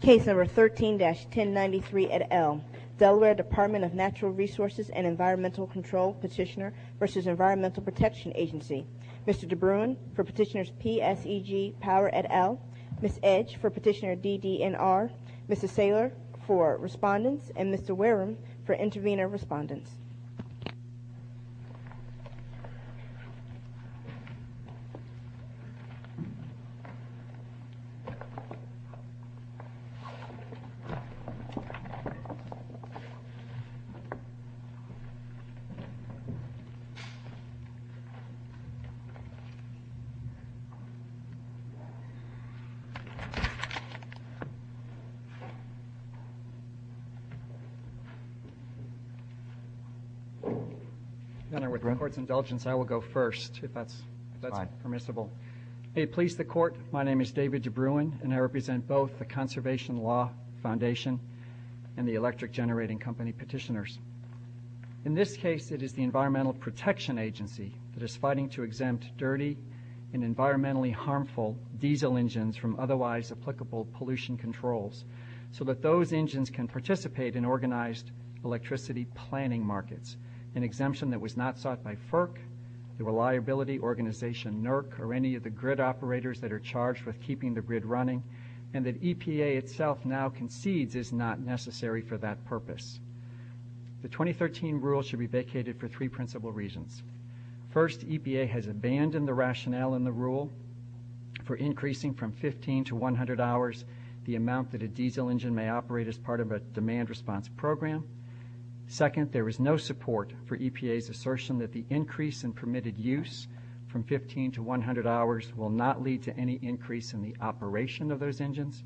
Case No. 13-1093 et al. Delaware Department of Natural Resources and Environmental Control Petitioner v. Environmental Protection Agency Mr. DeBruin for Petitioners PSEG Power et al., Ms. Edge for Petitioner DDNR, Mr. Saylor for Respondents, and Mr. Wareham for Intervenor Respondents. Mr. DeBruin. Senator, with court's indulgence, I will go first, if that's permissible. May it please the court, my name is David DeBruin, and I represent both the Conservation Law Foundation and the Electric Generating Company Petitioners. In this case, it is the Environmental Protection Agency that is fighting to exempt dirty and environmentally harmful diesel engines from otherwise applicable pollution controls so that those engines can participate in organized electricity planning markets, an exemption that was not sought by FERC, the Reliability Organization, NERC, or any of the grid operators that are charged with keeping the grid running, and that EPA itself now concedes is not necessary for that purpose. The 2013 rule should be vacated for three principal reasons. First, EPA has abandoned the rationale in the rule for increasing from 15 to 100 hours the amount that a diesel engine may operate as part of a demand response program. Second, there is no support for EPA's assertion that the increase in permitted use from 15 to 100 hours will not lead to any increase in the operation of those engines,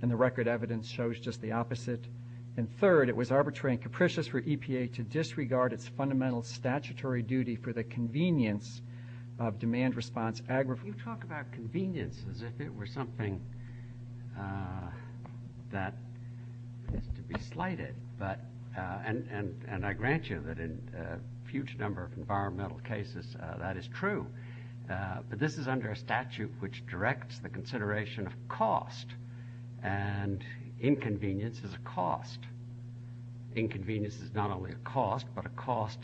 and the record evidence shows just the opposite. And third, it was arbitrary and capricious for EPA to disregard its fundamental statutory duty You talk about convenience as if it were something that is to be slighted, and I grant you that in a huge number of environmental cases that is true, but this is under a statute which directs the consideration of cost, and inconvenience is a cost. Inconvenience is not only a cost, but a cost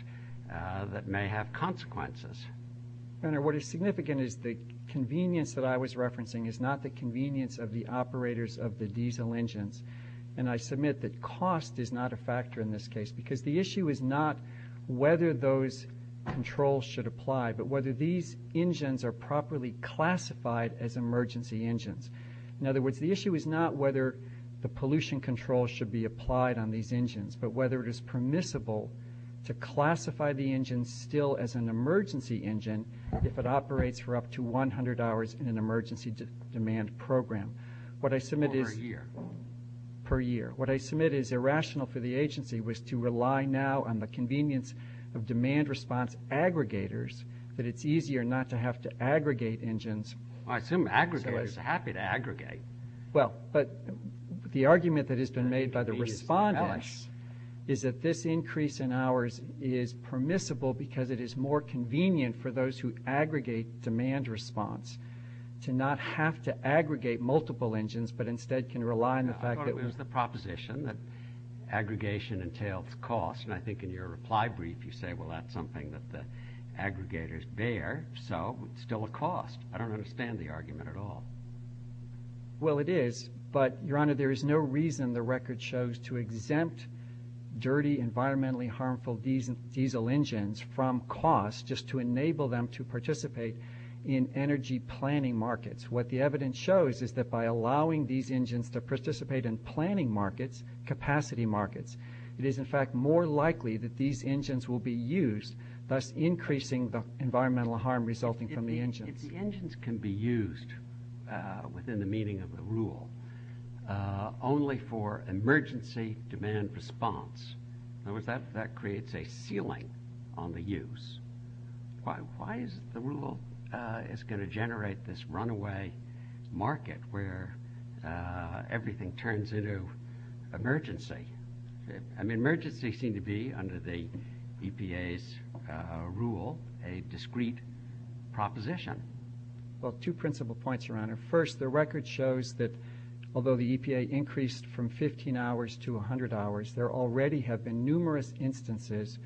that may have consequences. Senator, what is significant is the convenience that I was referencing is not the convenience of the operators of the diesel engines, and I submit that cost is not a factor in this case because the issue is not whether those controls should apply, but whether these engines are properly classified as emergency engines. In other words, the issue is not whether the pollution control should be applied on these engines, but whether it is permissible to classify the engine still as an emergency engine if it operates for up to 100 hours in an emergency demand program. Per year. Per year. What I submit is irrational for the agency was to rely now on the convenience of demand response aggregators, but it's easier not to have to aggregate engines. I assume aggregators are happy to aggregate. Well, but the argument that has been made by the respondents is that this increase in hours is permissible because it is more convenient for those who aggregate demand response to not have to aggregate multiple engines, but instead can rely on the fact that... I thought it was the proposition that aggregation entails cost, and I think in your reply brief you say, well, that's something that the aggregators bear, so it's still a cost. I don't understand the argument at all. Well, it is, but, Your Honor, there is no reason the record shows to exempt dirty, environmentally harmful diesel engines from cost just to enable them to participate in energy planning markets. What the evidence shows is that by allowing these engines to participate in planning markets, capacity markets, it is, in fact, more likely that these engines will be used, thus increasing the environmental harm resulting from the engines. If the engines can be used within the meaning of the rule only for emergency demand response, in other words, that creates a ceiling on the use. Why is it the rule is going to generate this runaway market where everything turns into emergency? Emergency seems to be, under the EPA's rule, a discreet proposition. Well, two principal points, Your Honor. First, the record shows that although the EPA increased from 15 hours to 100 hours, there already have been numerous instances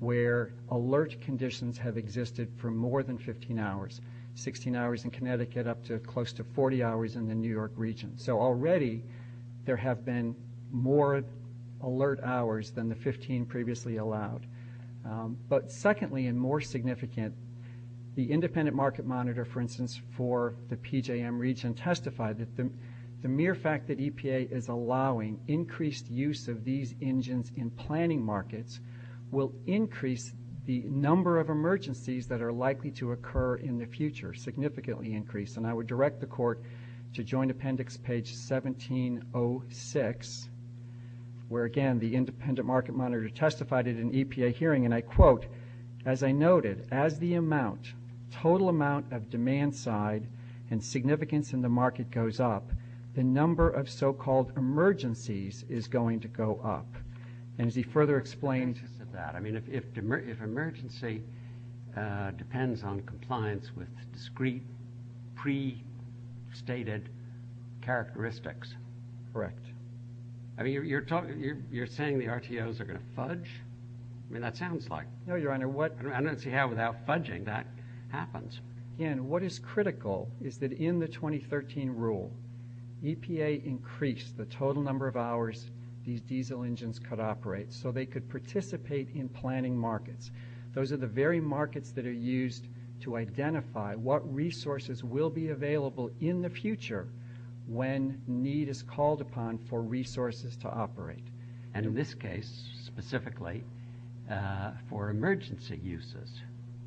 where alert conditions have existed for more than 15 hours, 16 hours in Connecticut up to close to 40 hours in the New York region. So already there have been more alert hours than the 15 previously allowed. But secondly and more significant, the independent market monitor, for instance, for the PJM region testified that the mere fact that EPA is allowing increased use of these engines in planning markets will increase the number of emergencies that are likely to occur in the future, significantly increase. And I would direct the Court to Joint Appendix, page 1706, where, again, the independent market monitor testified at an EPA hearing, and I quote, as I noted, as the amount, total amount of demand side and significance in the market goes up, the number of so-called emergencies is going to go up. And as he further explained that, I mean, if emergency depends on compliance with discrete pre-stated characteristics. Correct. I mean, you're saying the RTOs are going to fudge? I mean, that sounds like. No, Your Honor, I don't see how without fudging that happens. And what is critical is that in the 2013 rule, EPA increased the total number of hours these diesel engines could operate so they could participate in planning markets. Those are the very markets that are used to identify what resources will be available in the future when need is called upon for resources to operate. And in this case, specifically, for emergency uses.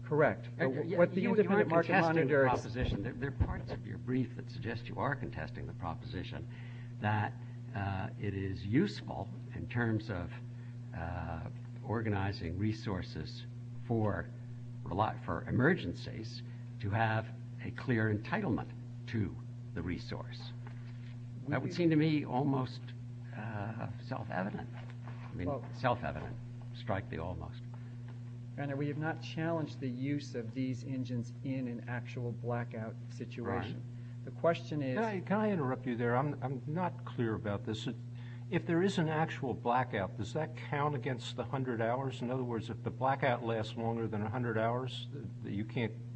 Correct. The independent market monitor. There are parts of your brief that suggest you are contesting the proposition that it is useful in terms of organizing resources for emergencies to have a clear entitlement to the resource. That would seem to me almost self-evident. I mean, self-evident. Strike the almost. Your Honor, we have not challenged the use of these engines in an actual blackout situation. Right. The question is. Can I interrupt you there? I'm not clear about this. If there is an actual blackout, does that count against the 100 hours? In other words, if the blackout lasts longer than 100 hours, you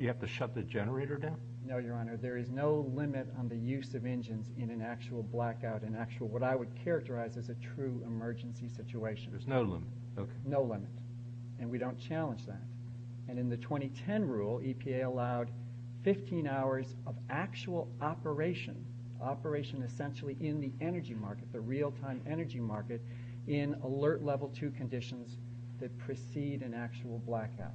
have to shut the generator down? No, Your Honor, there is no limit on the use of engines in an actual blackout. What I would characterize as a true emergency situation. There's no limit. No limit. And we don't challenge that. And in the 2010 rule, EPA allowed 15 hours of actual operation, operation essentially in the energy market, the real-time energy market, in alert level 2 conditions that precede an actual blackout.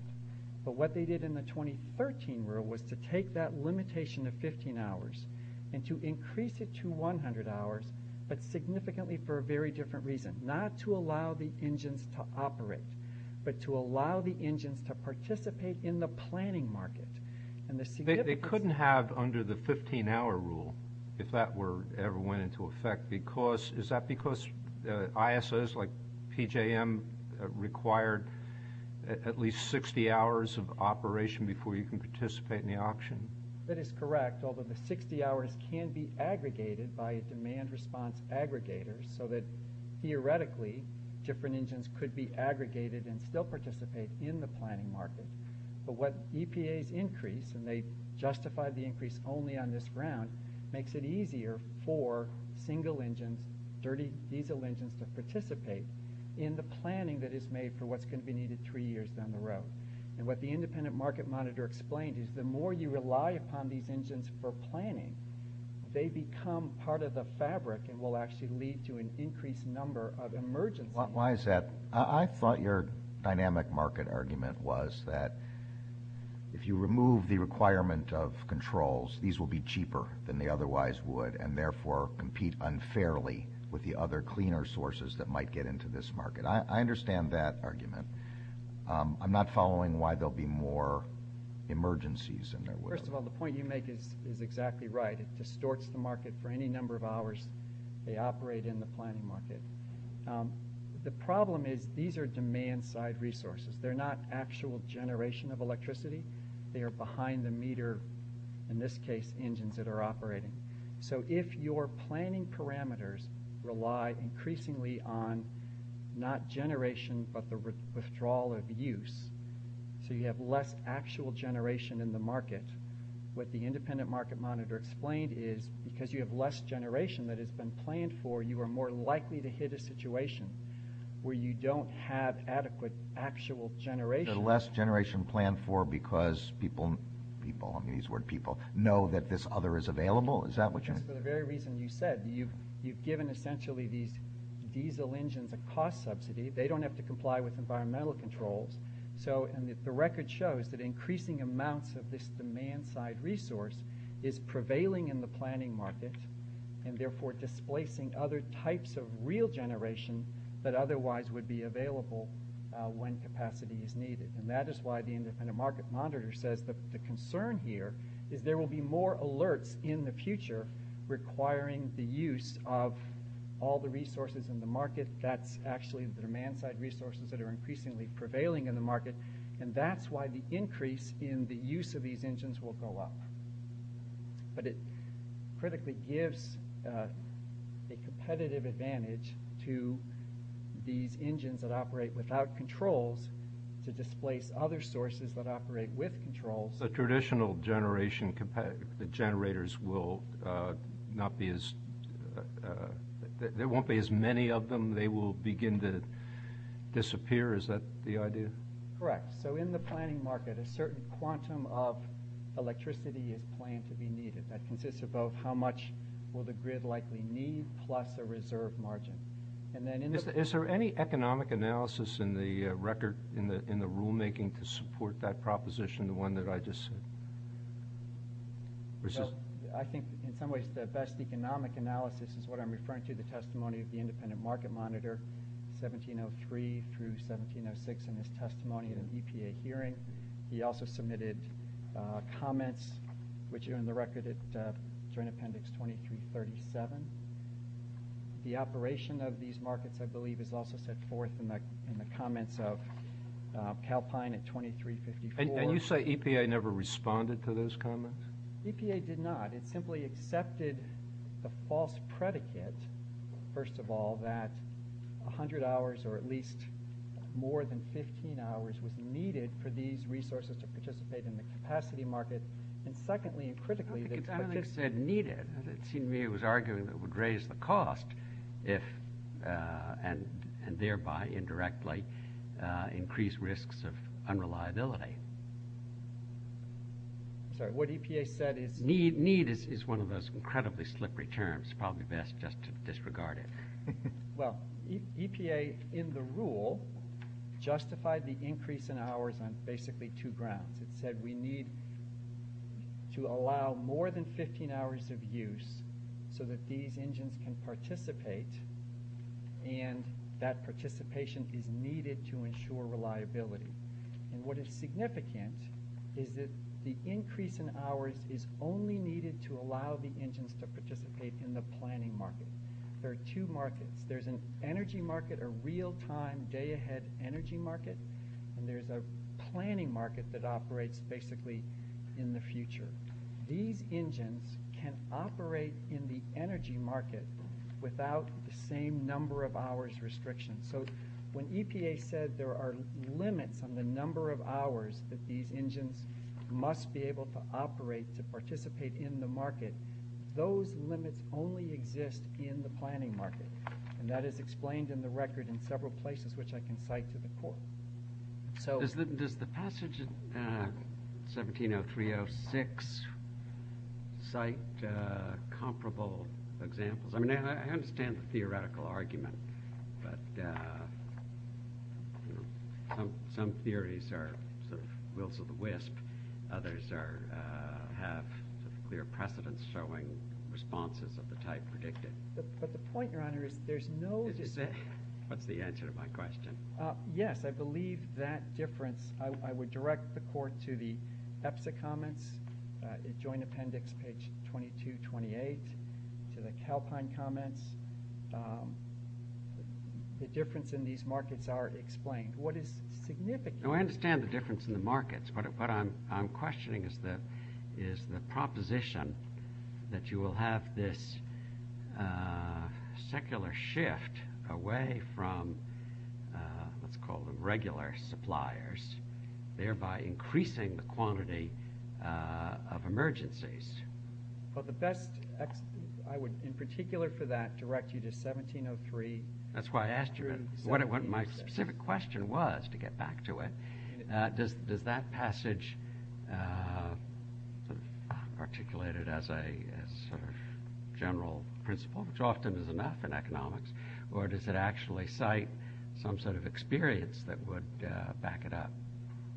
But what they did in the 2013 rule was to take that limitation of 15 hours and to increase it to 100 hours, but significantly for a very different reason. Not to allow the engines to operate, but to allow the engines to participate in the planning market. They couldn't have under the 15-hour rule if that ever went into effect. Is that because ISOs like PJM required at least 60 hours of operation before you can participate in the auction? That is correct, although the 60 hours can be aggregated by demand response aggregators, so that theoretically different engines could be aggregated and still participate in the planning market. But what EPA's increase, and they justified the increase only on this round, makes it easier for single engines, diesel engines, to participate in the planning that is made for what's going to be needed three years down the road. And what the independent market monitor explained is the more you rely upon these engines for planning, they become part of the fabric and will actually lead to an increased number of emergencies. Why is that? I thought your dynamic market argument was that if you remove the requirement of controls, these will be cheaper than they otherwise would, and therefore compete unfairly with the other cleaner sources that might get into this market. I understand that argument. I'm not following why there will be more emergencies than there were. First of all, the point you make is exactly right. It distorts the market for any number of hours they operate in the planning market. The problem is these are demand-side resources. They're not actual generation of electricity. They are behind the meter, in this case, engines that are operating. So if your planning parameters rely increasingly on not generation but the withdrawal of use, so you have less actual generation in the market, what the independent market monitor explained is because you have less generation that has been planned for, you are more likely to hit a situation where you don't have adequate actual generation. So less generation planned for because people – people, I mean these word people – know that this other is available? Is that what you're saying? For the very reason you said. You've given essentially these diesel engines a cost subsidy. They don't have to comply with environmental controls. The record shows that increasing amounts of this demand-side resource is prevailing in the planning market and therefore displacing other types of real generation that otherwise would be available when capacity is needed. That is why the independent market monitor says the concern here is there will be more alerts in the future requiring the use of all the resources in the market. That's actually the demand-side resources that are increasingly prevailing in the market and that's why the increase in the use of these engines will go up. But it critically gives a competitive advantage to these engines that operate without controls to displace other sources that operate with controls. The traditional generation – the generators will not be as – they will begin to disappear. Is that the idea? Correct. So in the planning market, a certain quantum of electricity is claimed to be needed. That consists of both how much will the grid likely need plus the reserve margin. Is there any economic analysis in the record, in the rulemaking to support that proposition, the one that I just – I think in some ways the best economic analysis is what I'm referring to, the testimony of the independent market monitor, 1703 through 1706 in his testimony in an EPA hearing. He also submitted comments, which are in the record at Joint Appendix 2337. The operation of these markets, I believe, is also set forth in the comments of Calpine at 2354. And you say EPA never responded to those comments? EPA did not. It simply accepted the false predicate, first of all, that 100 hours or at least more than 15 hours was needed for these resources to participate in the capacity market. And secondly and critically – I think it's to an extent needed. It seemed to me it was argued that it would raise the cost and thereby indirectly increase risks of unreliability. Sorry. What EPA said is – Need is one of those incredibly slippery terms. Probably best just to disregard it. Well, EPA in the rule justified the increase in hours on basically two grounds. It said we need to allow more than 15 hours of use so that these engines can participate and that participation is needed to ensure reliability. And what is significant is that the increase in hours is only needed to allow the engines to participate in the planning market. There are two markets. There's an energy market, a real-time, day-ahead energy market, and there's a planning market that operates basically in the future. These engines can operate in the energy market without the same number of hours restriction. So when EPA says there are limits on the number of hours that these engines must be able to operate to participate in the market, those limits only exist in the planning market. And that is explained in the record in several places, which I can cite to the court. Does the passage of 1703-06 cite comparable examples? I mean, I understand the theoretical argument, but some theories are the whilst of the wisp. Others have clear precedents showing responses of the type predicted. But the point, Your Honor, is there's no... Is that the answer to my question? Yes, I believe that difference. I would direct the court to the EPSA comments, Joint Appendix, page 22-28, to the Calpine comments. The difference in these markets are explained. What is significant? No, I understand the difference in the markets, but what I'm questioning is the proposition that you will have this secular shift away from, let's call them regular suppliers, thereby increasing the quantity of emergencies. Well, the best... I would, in particular for that, direct you to 1703. That's why I asked you what my specific question was, to get back to it. Does that passage, articulated as a sort of general principle, which often is enough in economics, or does it actually cite some sort of experience that would back it up?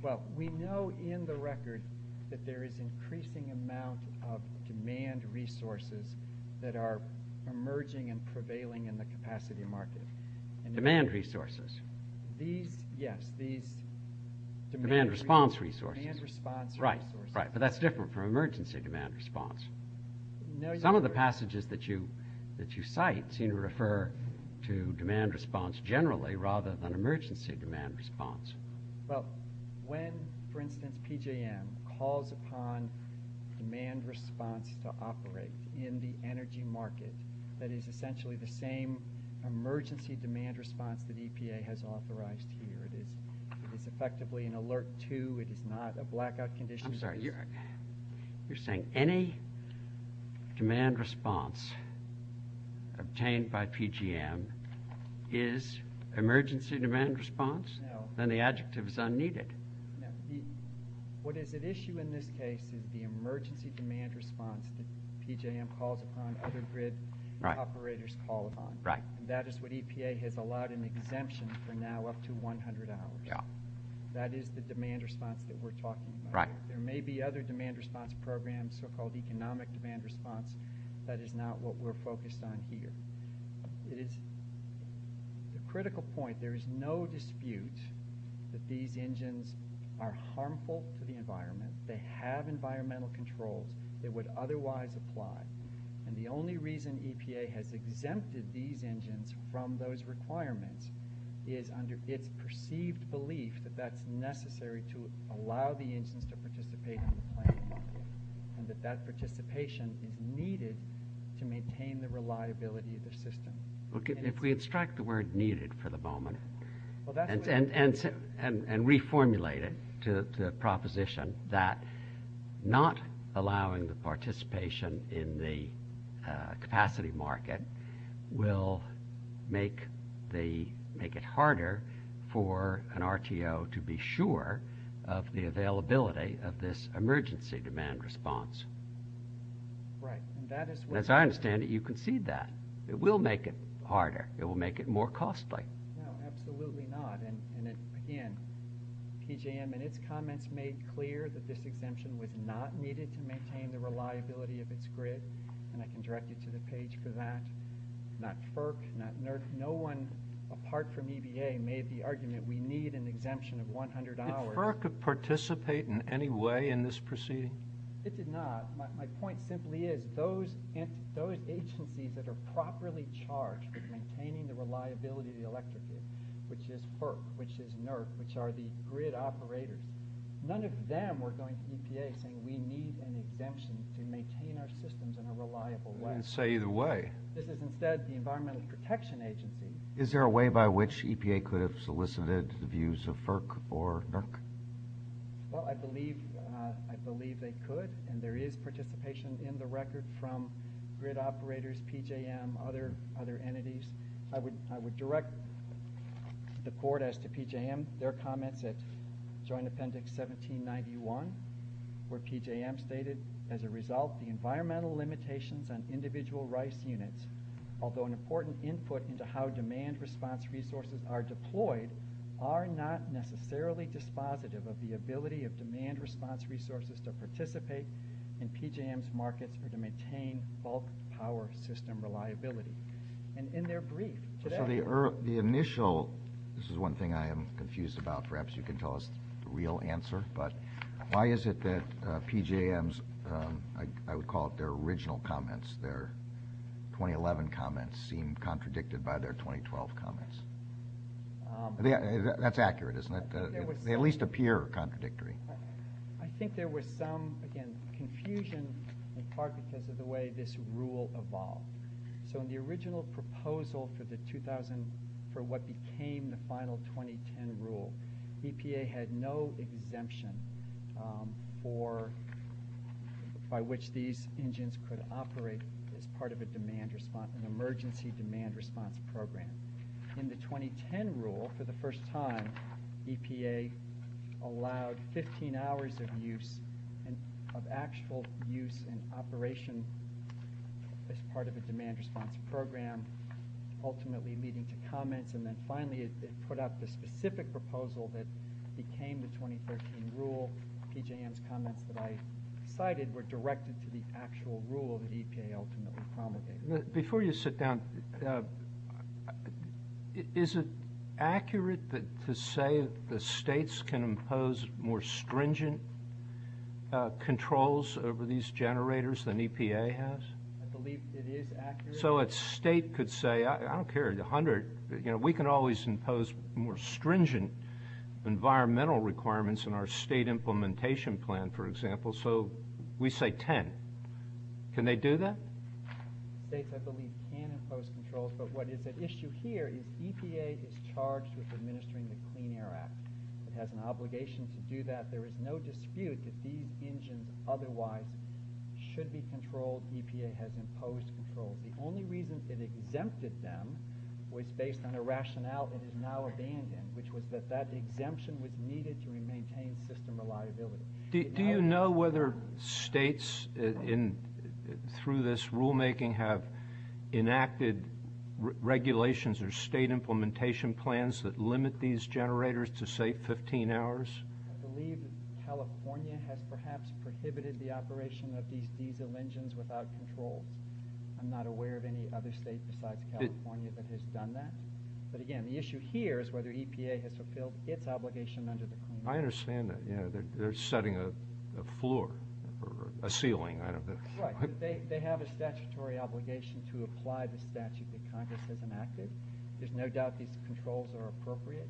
Well, we know in the record that there is increasing amounts of demand resources that are emerging and prevailing in the capacity markets. Demand resources? These, yes, these... Demand response resources. Demand response resources. Right, right. But that's different from emergency demand response. Some of the passages that you cite seem to refer to demand response generally rather than emergency demand response. Well, when, for instance, PJM calls upon demand response to operate in the energy market, that is essentially the same emergency demand response that EPA has authorized here. It's effectively an alert to, it is not a blackout condition... I'm sorry, you're saying any demand response obtained by PJM is emergency demand response? No. Then the adjective is unneeded. What is at issue in this case is the emergency demand response that PJM calls upon, other grid operators call upon. Right. And that is what EPA has allowed in the exemption for now up to $100. Yeah. That is the demand response that we're talking about. Right. There may be other demand response programs, so-called economic demand response. That is not what we're focused on here. It is a critical point. There is no dispute that these engines are harmful to the environment. They have environmental control that would otherwise apply. And the only reason EPA has exempted these engines from those requirements is under its perceived belief that that's necessary to allow the engines to participate in the planning process, and that that participation is needed to maintain the reliability of the system. If we abstract the word needed for the moment and reformulate it to a proposition that not allowing the participation in the capacity market will make it harder for an RTO to be sure of the availability of this emergency demand response. Right. And that is what- As I understand it, you concede that. It will make it harder. It will make it more costly. No, absolutely not. And, again, PJM in its comments made clear that this exemption was not needed to maintain the reliability of its grid. And I can direct you to the page for that. Not FERC, not NERC. No one apart from EPA made the argument we need an exemption of $100. Did FERC participate in any way in this proceeding? It did not. My point simply is those agencies that are properly charged for maintaining the reliability of the electricity, which is FERC, which is NERC, which are the grid operators, none of them were going to EPA saying we need an exemption to maintain our systems in a reliable way. I didn't say either way. This is instead the Environmental Protection Agency. Is there a way by which EPA could have solicited the views of FERC or NERC? Well, I believe they could, and there is participation in the record from grid operators, PJM, other entities. I would direct the court as to PJM. Their comments at Joint Appendix 1791 where PJM stated, as a result, the environmental limitations on individual rice units, although an important input into how demand response resources are deployed, are not necessarily dispositive of the ability of demand response resources to participate in PJM's markets or to maintain bulk power system reliability. And in their brief today... So the initial... This is one thing I am confused about. Perhaps you can tell us the real answer, but why is it that PJM's... their 2011 comments seem contradicted by their 2012 comments? That's accurate, isn't it? They at least appear contradictory. I think there was some, again, confusion with Parkinson's as to the way this rule evolved. So in the original proposal for the 2000... for what became the final 2010 rule, EPA had no exemption for... by which these engines could operate as part of an emergency demand response program. In the 2010 rule, for the first time, EPA allowed 15 hours of use, of actual use and operation as part of a demand response program, ultimately leading to comments, and then finally it put out the specific proposal that became the 2013 rule. PJM's comments that I cited were directed to the actual rule that EPA ultimately promulgated. Before you sit down, is it accurate to say that states can impose more stringent controls over these generators than EPA has? I believe it is accurate. So a state could say, I don't care, a hundred... We can always impose more stringent environmental requirements in our state implementation plan, for example, so we say ten. Can they do that? States, I believe, can impose controls, but what is at issue here is EPA is charged with administering the Clean Air Act. It has an obligation to do that. There is no dispute that these engines otherwise should be controlled. EPA has imposed controls. The only reason it exempted them was based on the rationale it is now abiding in, which was that that exemption was needed to maintain system reliability. Do you know whether states, through this rulemaking, have enacted regulations or state implementation plans that limit these generators to, say, 15 hours? I believe California has perhaps prohibited the operation of these diesel engines without control. I'm not aware of any other state outside of California that has done that. But again, the issue here is whether EPA has fulfilled its obligation under the Clean Air Act. I understand that. They're setting a floor, a ceiling. Right, but they have a statutory obligation to apply the statute that Congress has enacted. There's no doubt these controls are appropriate.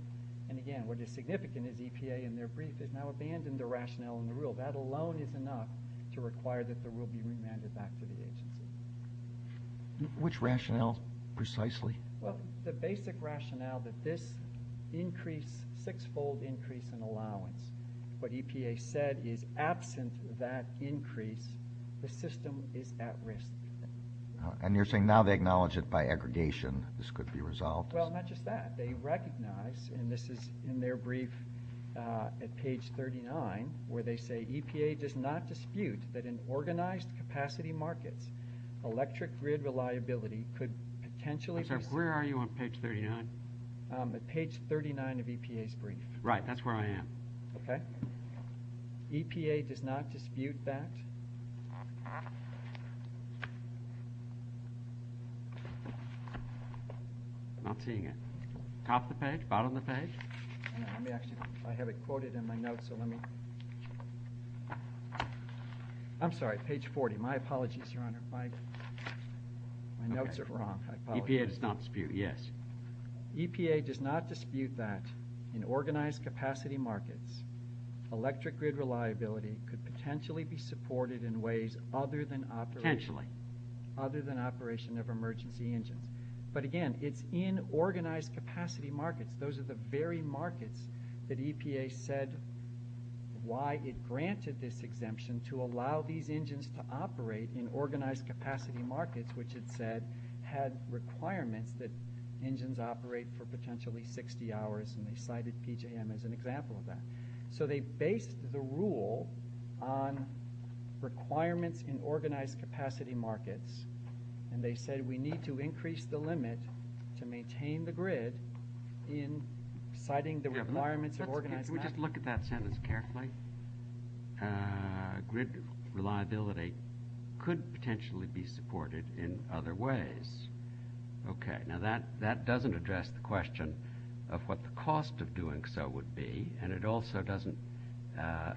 And again, what is significant is EPA, in their brief, has now abandoned the rationale and rule. That alone is enough to require that the rule be remanded back to the agency. Which rationale, precisely? Well, the basic rationale that this increased six-fold increase in allowance. What EPA said is, absence of that increase, the system is at risk. And you're saying now they acknowledge it by aggregation. This could be resolved. Well, not just that. They recognize, and this is in their brief at page 39, where they say, in organized capacity markets, electric grid reliability could potentially... Where are you on page 39? At page 39 of EPA's brief. Right, that's where I am. Okay. EPA does not dispute that. I'm seeing it. Top of the page, bottom of the page? Let me ask you. I have it quoted in my notes, so let me... I'm sorry, page 40. My apologies, Your Honor. My notes are wrong. EPA does not dispute, yes. EPA does not dispute that. In organized capacity markets, electric grid reliability could potentially be supported in ways other than operation. Potentially. Other than operation of emergency engines. But again, it's in organized capacity markets. Those are the very markets that EPA said why it granted this exemption to allow these engines to operate in organized capacity markets, which it said had requirements that engines operate for potentially 60 hours, and they cited PJM as an example of that. So they based the rule on requirements in organized capacity markets, and they said we need to increase the limit to maintain the grid in citing the requirements of organized capacity. Can we just look at that sentence carefully? Grid reliability could potentially be supported in other ways. Okay. Now, that doesn't address the question of what the cost of doing so would be, and it also doesn't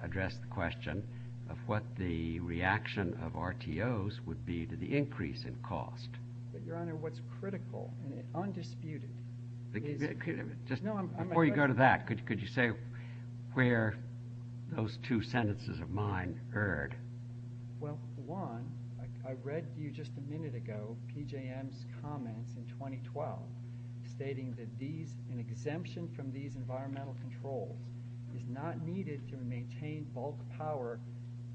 address the question of what the reaction of RTOs would be to the increase in cost. But, Your Honor, what's critical, and it's undisputed... Just before you go to that, could you say where those two sentences of mine heard? Well, one, I read to you just a minute ago PJM's comment in 2012 stating that these, an exemption from these environmental controls is not needed to maintain all the power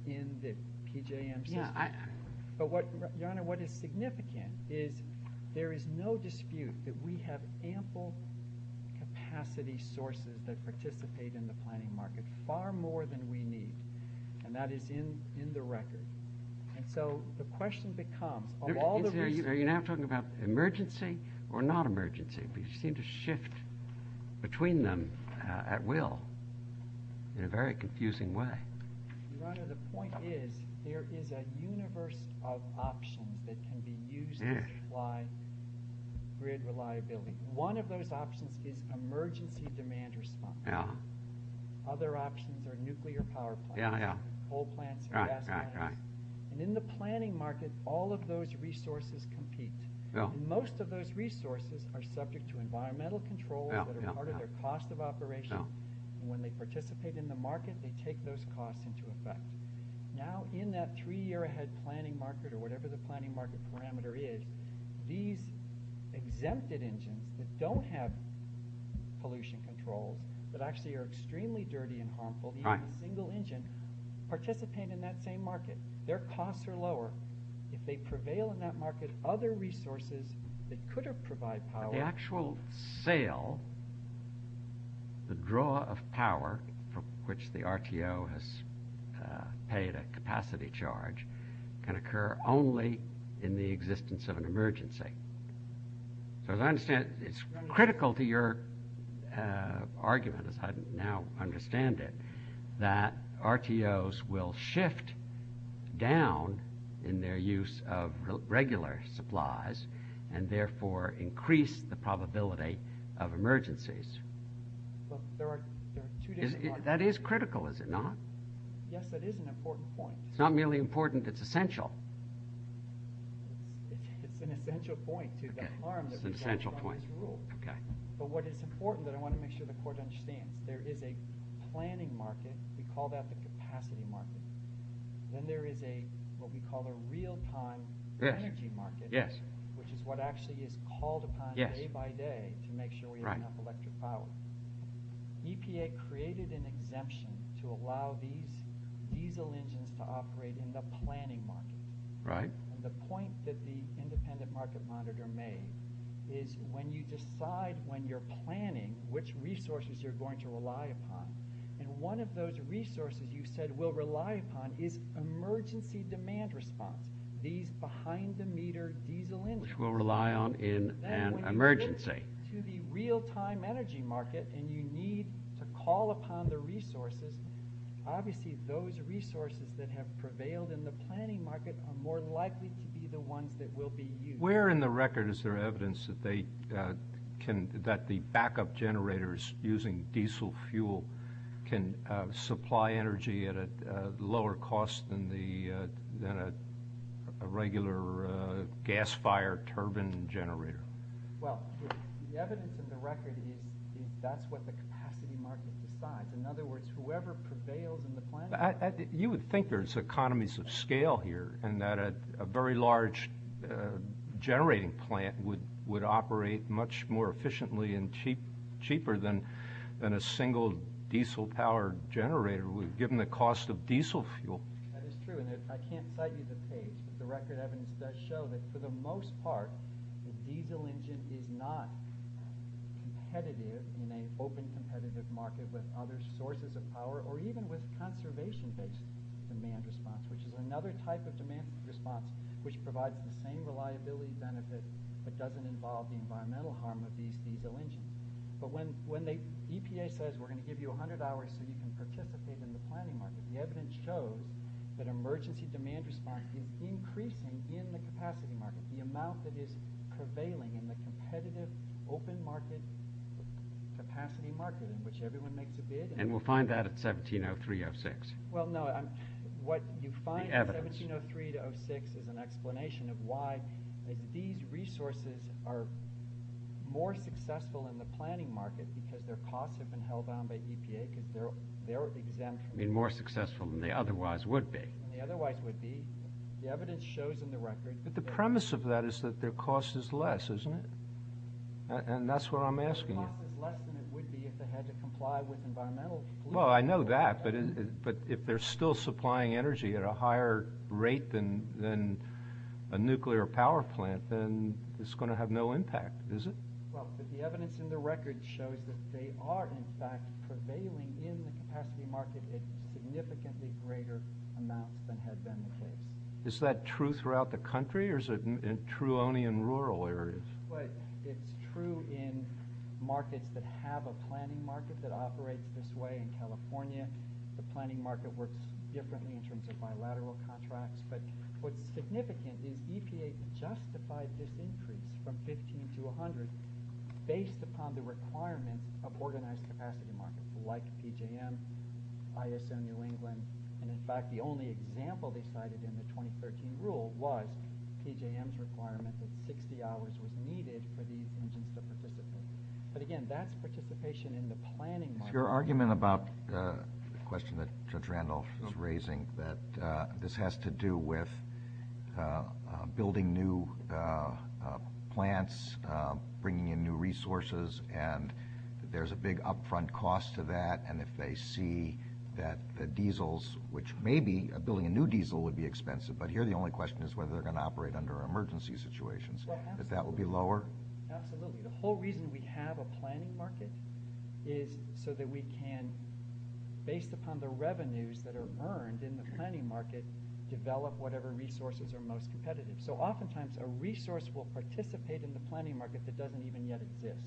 in the PJM grid. Yeah, I... But, Your Honor, what is significant is there is no dispute that we have ample capacity sources that participate in the planning market, far more than we need, and that is in the record. And so the question becomes... Are you now talking about emergency or not emergency? We seem to shift between them at will in a very confusing way. Your Honor, the point is there is a universe of options that can be used to imply grid reliability. One of those options is emergency demand response. Other options are nuclear power plants, coal plants, gas plants. And in the planning market, all of those resources compete. And most of those resources are subject to environmental controls that are part of their cost of operation, and when they participate in the market, they take those costs into effect. Now, in that three-year-ahead planning market or whatever the planning market parameter is, these exempted engines that don't have pollution control, that actually are extremely dirty and harmful... Right. ...a single engine, participate in that same market. Their costs are lower. If they prevail in that market, other resources that could have provided power... The actual sale, the draw of power for which the RTO has paid a capacity charge can occur only in the existence of an emergency. So as I understand it, it's critical to your argument, as I now understand it, that RTOs will shift down in their use of regular supplies and therefore increase the probability of emergencies. Well, there are two different points. That is critical, is it not? Yes, but it is an important point. It's not merely important, it's essential. It's an essential point, too. It's an essential point. But what is important, and I want to make sure the court understands, there is a planning market. We call that the capacity market. Then there is what we call a real-time energy market... Yes. ...which is what actually is called upon day by day... Yes. ...to make sure we have enough electric power. EPA created an exemption to allow these diesel engines to operate in the planning market. Right. And the point that the independent market monitor made is when you decide when you're planning which resources you're going to rely upon, and one of those resources you said we'll rely upon is emergency demand response, these behind-the-meter diesel engines... Which we'll rely on in an emergency. ...to the real-time energy market, and you need to call upon the resources. Obviously, those resources that have prevailed in the planning market are more likely to be the ones that will be used. Where in the record is there evidence that the backup generators using diesel fuel can supply energy at a lower cost than a regular gas-fired turbine generator? Well, the evidence in the record is that's what the capacity market decides. In other words, whoever prevails in the planning market... You would think there's economies of scale here and that a very large generating plant would operate much more efficiently and cheaper than a single diesel-powered generator given the cost of diesel fuel. That is true, and I can't cite you the case. The record evidence does show that, for the most part, the diesel engine is not competitive in an open competitive market with other sources of power or even with conservation-based demand response, which is another type of demand response which provides the same reliability benefits but doesn't involve environmental harm with these diesel engines. But when the EPA says, we're going to give you 100 hours and you can participate in the planning market, the evidence shows that emergency demand response is increasing in the capacity market. The amount that is prevailing in the competitive open market capacity market in which everyone makes a bid... And we'll find that at 1703-06. Well, no, what you find at 1703-06 is an explanation of why these resources are more successful in the planning market because their costs have been held down by EPA because they're... They're more successful than they otherwise would be. ...than they otherwise would be. The evidence shows in the record... But the premise of that is that their cost is less, isn't it? And that's what I'm asking you. The cost is less than it would be if they had to comply with environmental... Well, I know that, but if they're still supplying energy at a higher rate than a nuclear power plant, then it's going to have no impact, is it? Well, but the evidence in the record shows that they are, in fact, prevailing in the capacity market at significantly greater amounts than has been the case. Is that true throughout the country, or is it true only in rural areas? Well, it's true in markets that have a planning market that operates this way in California. The planning market works differently in terms of bilateral contracts. But what's significant is EPA justified this increase from 15 to 100 based upon the requirement of organized capacity markets like PJM, ISM New England, and, in fact, the only example they cited in the 2013 rule was PJM's requirement that 60 hours was needed for these engines to participate. But, again, that participation in the planning market... Your argument about the question that Judge Randolph was raising, that this has to do with building new plants, bringing in new resources, and there's a big upfront cost to that, and if they see that the diesels, which maybe building a new diesel would be expensive, but here the only question is whether they're going to operate under emergency situations, that that would be lower? Absolutely. The whole reason we have a planning market is so that we can, based upon the revenues that are earned in the planning market, develop whatever resources are most competitive. So oftentimes a resource will participate in the planning market that doesn't even yet exist.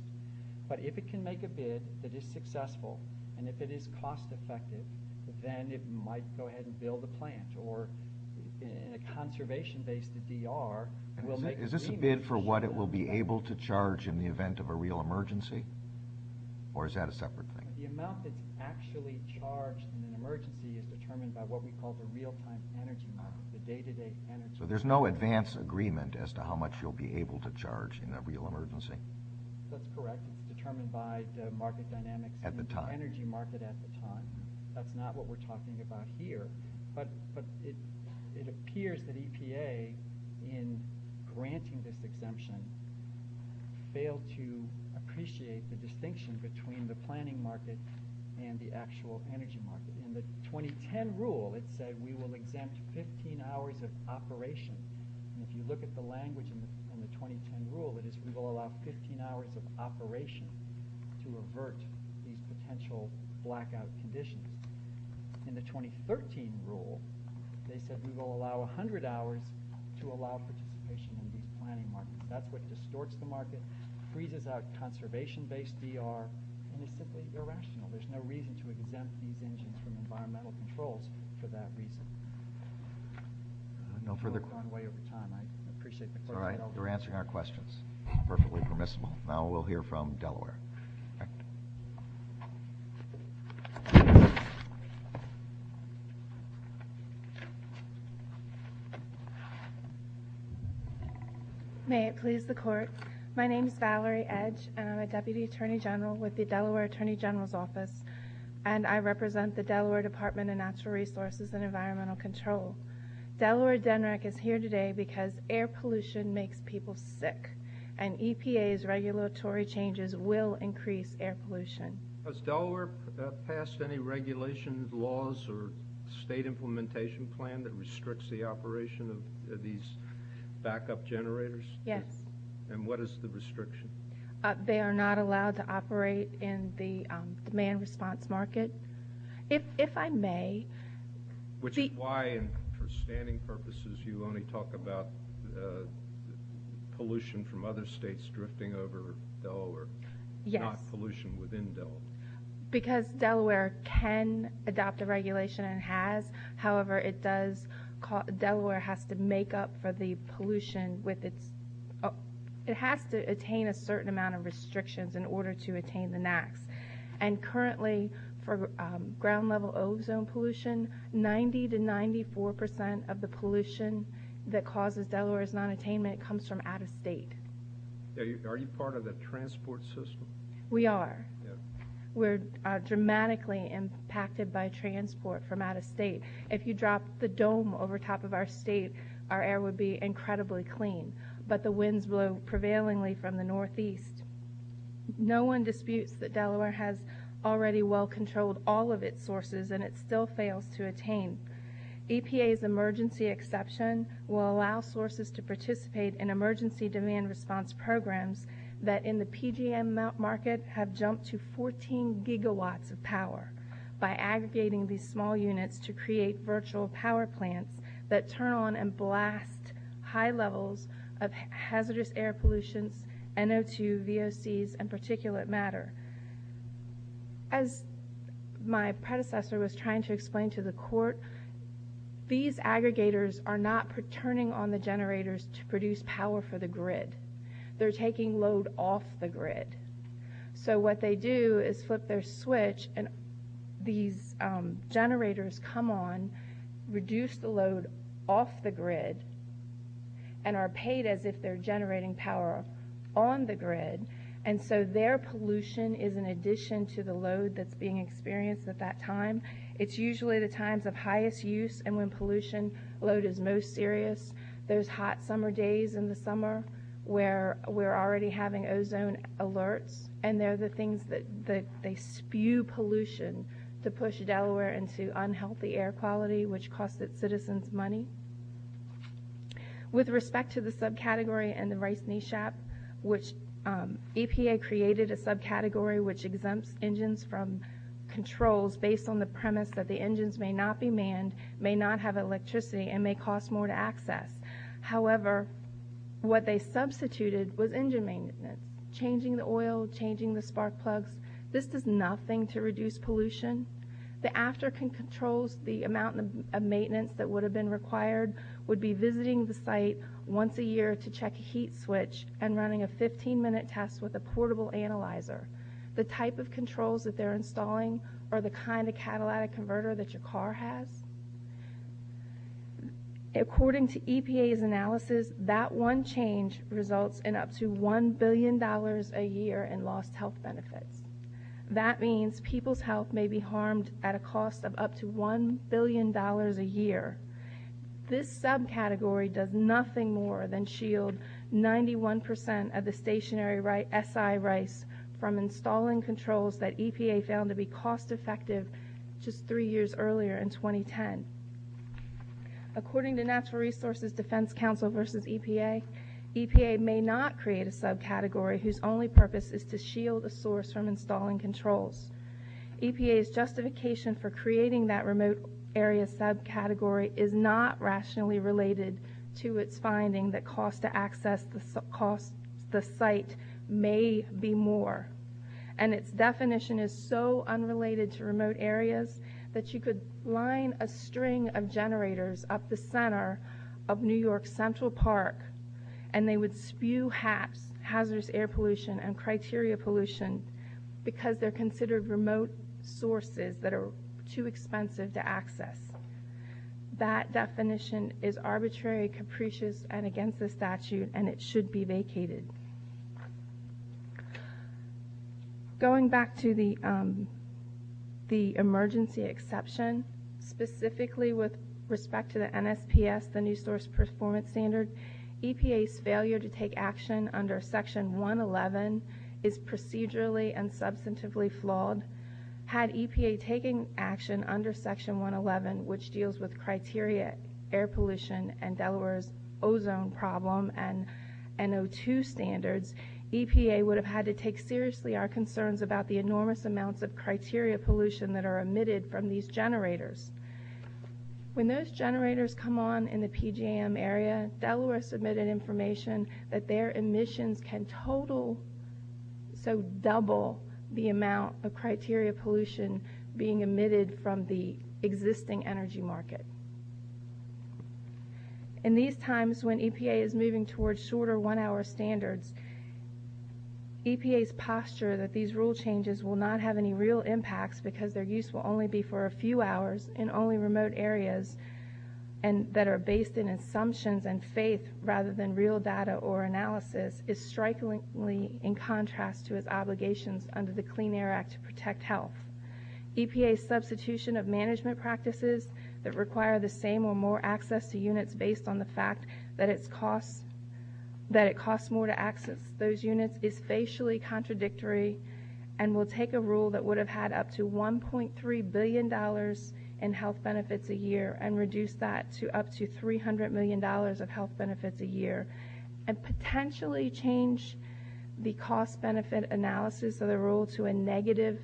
But if it can make a bid, it is successful, and if it is cost-effective, then it might go ahead and build a plant, or a conservation-based DR... Is this a bid for what it will be able to charge in the event of a real emergency, or is that a separate thing? The amount that's actually charged in an emergency is determined by what we call the real-time energy model, the day-to-day energy model. So there's no advance agreement as to how much you'll be able to charge in a real emergency? That's correct. That's determined by the market dynamics... At the time. ...energy market at the time. That's not what we're talking about here. But it appears that EPA, in granting this exemption, failed to appreciate the distinction between the planning market and the actual energy market. In the 2010 rule, it said, we will exempt 15 hours of operation. If you look at the language in the 2010 rule, it is, we will allow 15 hours of operation to avert these potential blackout conditions. In the 2013 rule, they said we will allow 100 hours to allow participation in the planning market. That's what distorts the market, freezes our conservation-based DR, and it's simply irrational. There's no reason to exempt these engines from environmental controls for that reason. No further... We're going way over time. I appreciate the thought. All right, we're answering our questions. Perfectly permissible. Now we'll hear from Delaware. May it please the Court. My name is Valerie Edge, and I'm a Deputy Attorney General with the Delaware Attorney General's Office, and I represent the Delaware Department of Natural Resources and Environmental Control. Delaware DENREC is here today because air pollution makes people sick, and EPA's regulatory changes will increase air pollution. Has Delaware passed any regulation laws or state implementation plan that restricts the operation of these backup generators? Yes. And what is the restriction? They are not allowed to operate in the demand-response market. If I may... Which is why, for standing purposes, you only talk about pollution from other states drifting over Delaware, not pollution within Delaware. Because Delaware can adopt a regulation and has. However, it does... Delaware has to make up for the pollution with its... It has to attain a certain amount of restrictions in order to attain the max. And currently, for ground-level ozone pollution, 90% to 94% of the pollution that causes Delaware's nonattainment comes from out-of-state. Are you part of the transport system? We are. We're dramatically impacted by transport from out-of-state. If you dropped the dome over top of our state, our air would be incredibly clean. But the winds blow prevailingly from the northeast. No one disputes that Delaware has already well-controlled all of its sources, and it still fails to attain. EPA's emergency exception will allow sources to participate in emergency demand-response programs that, in the PGM market, have jumped to 14 gigawatts of power by aggregating these small units to create virtual power plants that turn on and blast high levels of hazardous air pollution, NO2, VOCs, and particulate matter. As my predecessor was trying to explain to the court, these aggregators are not turning on the generators to produce power for the grid. They're taking load off the grid. So what they do is flip their switch, and these generators come on, reduce the load off the grid, and are paid as if they're generating power on the grid. And so their pollution is in addition to the load that's being experienced at that time. It's usually the times of highest use and when pollution load is most serious, those hot summer days in the summer where we're already having ozone alerts, and they're the things that spew pollution to push Delaware into unhealthy air quality, which costs its citizens money. With respect to the subcategory and the Rice Knee Shop, which EPA created a subcategory which exempts engines from controls based on the premise that the engines may not be manned, may not have electricity, and may cost more to access. However, what they substituted was engine maintenance, changing the oil, changing the spark plugs. This is nothing to reduce pollution. The after-controls, the amount of maintenance that would have been required, would be visiting the site once a year to check a heat switch, and running a 15-minute test with a portable analyzer. The type of controls that they're installing are the kind of catalytic converter that your car has. According to EPA's analysis, that one change results in up to $1 billion a year in lost health benefits. That means people's health may be harmed at a cost of up to $1 billion a year. This subcategory does nothing more than shield 91% of the stationary SI rice from installing controls that EPA found to be cost-effective just three years earlier in 2010. According to Natural Resources Defense Council versus EPA, EPA may not create a subcategory whose only purpose is to shield a source from installing controls. EPA's justification for creating that remote area subcategory is not rationally related to its finding that cost to access the site may be more. And its definition is so unrelated to remote areas that you could line a string of generators up the center of New York's Central Park, and they would spew hazardous air pollution and criteria pollution because they're considered remote sources that are too expensive to access. That definition is arbitrary, capricious, and against the statute, and it should be vacated. Going back to the emergency exception, specifically with respect to the NSPS, the New Source Performance Standard, EPA's failure to take action under Section 111 is procedurally and substantively flawed. Had EPA taken action under Section 111 which deals with criteria air pollution and Delaware's ozone problem and NO2 standards, EPA would have had to take seriously our concerns about the enormous amounts of criteria pollution that are emitted from these generators. When those generators come on in the PGM area, Delaware submitted information that their emissions can total, so double the amount of criteria pollution being emitted from the existing energy market. In these times when EPA is moving towards shorter one-hour standards, EPA's posture that these rule changes will not have any real impact because their use will only be for a few hours in only remote areas that are based in assumptions and faith rather than real data or analysis is strikingly in contrast to its obligations under the Clean Air Act to protect health. EPA's substitution of management practices that require the same or more access to units based on the fact that it costs more to access those units is facially contradictory and will take a rule that would have had up to $1.3 billion in health benefits a year and reduce that to up to $300 million of health benefits a year and potentially change the cost-benefit analysis of the rule to a negative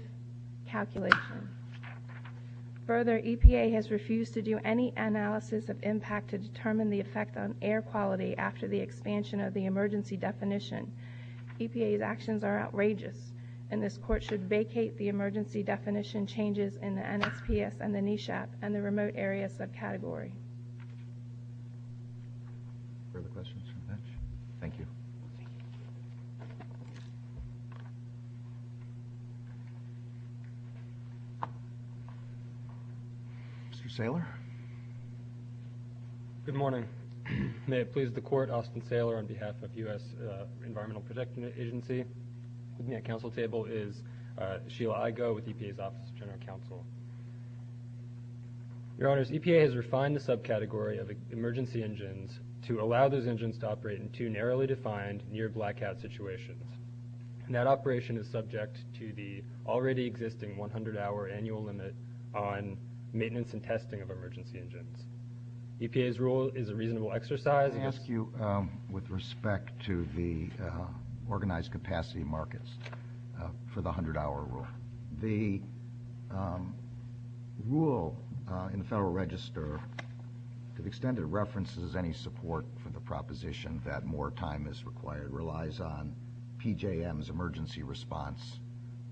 calculation. Further, EPA has refused to do any analysis of impact to determine the effect on air quality after the expansion of the emergency definition. EPA's actions are outrageous, and this Court should vacate the emergency definition changes in the MSPS and the NESHAP and the remote areas of category. Further questions from the bench? Thank you. Mr. Saylor? Good morning. May it please the Court, Austin Saylor on behalf of the U.S. Environmental Protection Agency. With me at council table is Sheila Igoe with EPA's Office of General Counsel. Your Honors, EPA has refined the subcategory of emergency engines to allow those engines to operate in two narrowly defined near-blackout situations. And that operation is subject to the already existing 100-hour annual limit on maintenance and testing of emergency engines. EPA's rule is a reasonable exercise... Let me ask you with respect to the organized capacity markets for the 100-hour rule. The rule in the Federal Register, to the extent it references any support for the proposition that more time is required, relies on PJM's emergency response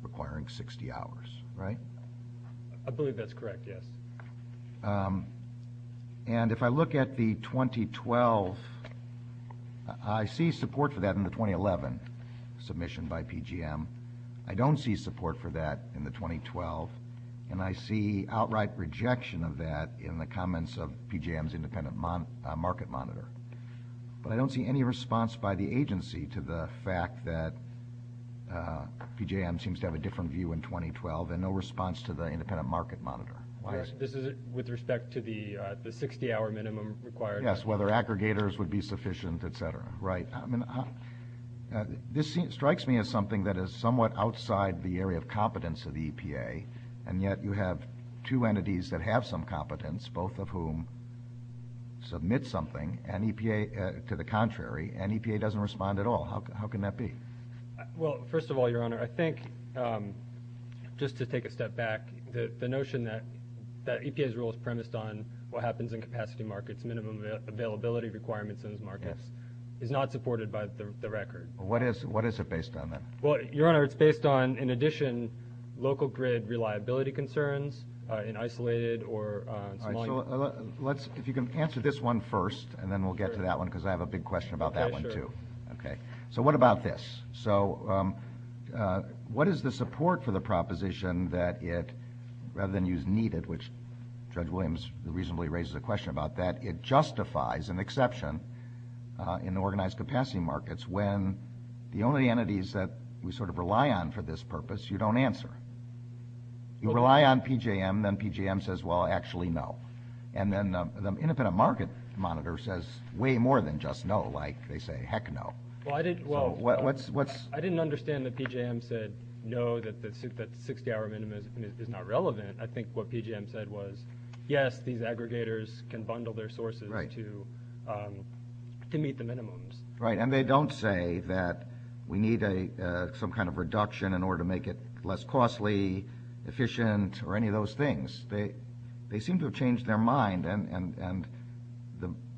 requiring 60 hours, right? I believe that's correct, yes. And if I look at the 2012... I see support for that in the 2011 submission by PJM. I don't see support for that in the 2012, and I see outright rejection of that in the comments of PJM's independent market monitor. But I don't see any response by the agency to the fact that PJM seems to have a different view in 2012 and no response to the independent market monitor. With respect to the 60-hour minimum required... Yes, whether aggregators would be sufficient, et cetera, right. This strikes me as something that is somewhat outside the area of competence of the EPA, and yet you have two entities that have some competence, both of whom submit something to the contrary, and EPA doesn't respond at all. How can that be? Well, first of all, Your Honor, I think, just to take a step back, the notion that EPA's rule is premised on what happens in capacity markets, minimum availability requirements for those markets, is not supported by the record. What is it based on then? Well, Your Honor, it's based on, in addition, local grid reliability concerns in isolated or... All right, so if you can answer this one first, and then we'll get to that one, because I have a big question about that one too. Okay, so what about this? So what is the support for the proposition that it, rather than use needed, which Judge Williams reasonably raises a question about that, it justifies an exception in organized capacity markets when the only entities that we sort of rely on for this purpose you don't answer. You rely on PJM, then PJM says, well, actually, no. And then the independent market monitor says way more than just no, like they say, heck no. Well, I didn't understand that PJM said no, that 60-hour minimum is not relevant. I think what PJM said was, yes, these aggregators can bundle their sources to meet the minimums. Right, and they don't say that we need some kind of reduction in order to make it less costly, efficient, or any of those things. They seem to have changed their mind, and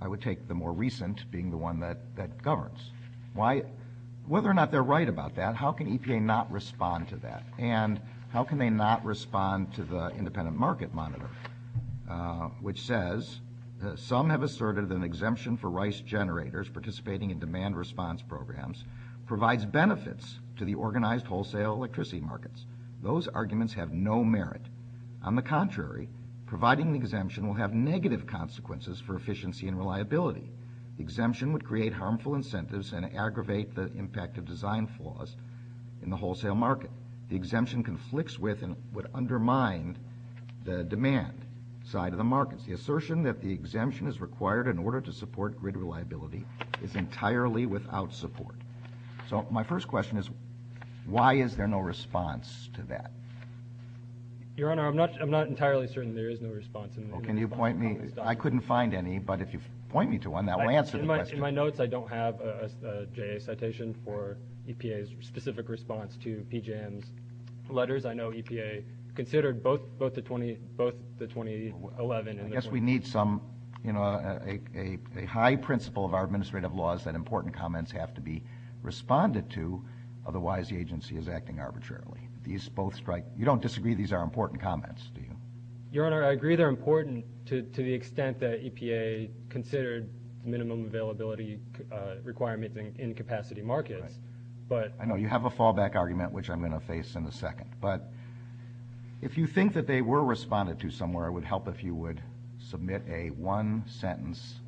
I would take the more recent being the one that governs. Whether or not they're right about that, how can EPA not respond to that? And how can they not respond to the independent market monitor, which says that some have asserted that an exemption for rice generators participating in demand response programs provides benefits to the organized wholesale electricity markets. Those arguments have no merit. On the contrary, providing an exemption will have negative consequences for efficiency and reliability. The exemption would create harmful incentives and aggravate the impact of design flaws in the wholesale market. The exemption conflicts with and would undermine the demand side of the markets. The assertion that the exemption is required in order to support grid reliability is entirely without support. So my first question is, why is there no response to that? Your Honor, I'm not entirely certain there is no response. Can you point me? I couldn't find any, but if you point me to one, that will answer the question. In my notes, I don't have a citation for EPA's specific response to PJM's letters. I know EPA considered both the 2011 and this one. I guess we need a high principle of our administrative laws that important comments have to be responded to, otherwise the agency is acting arbitrarily. You don't disagree these are important comments, do you? EPA considered minimum availability requirement in capacity markets. I know you have a fallback argument, which I'm going to face in a second. But if you think that they were responded to somewhere, it would help if you would submit a one-sentence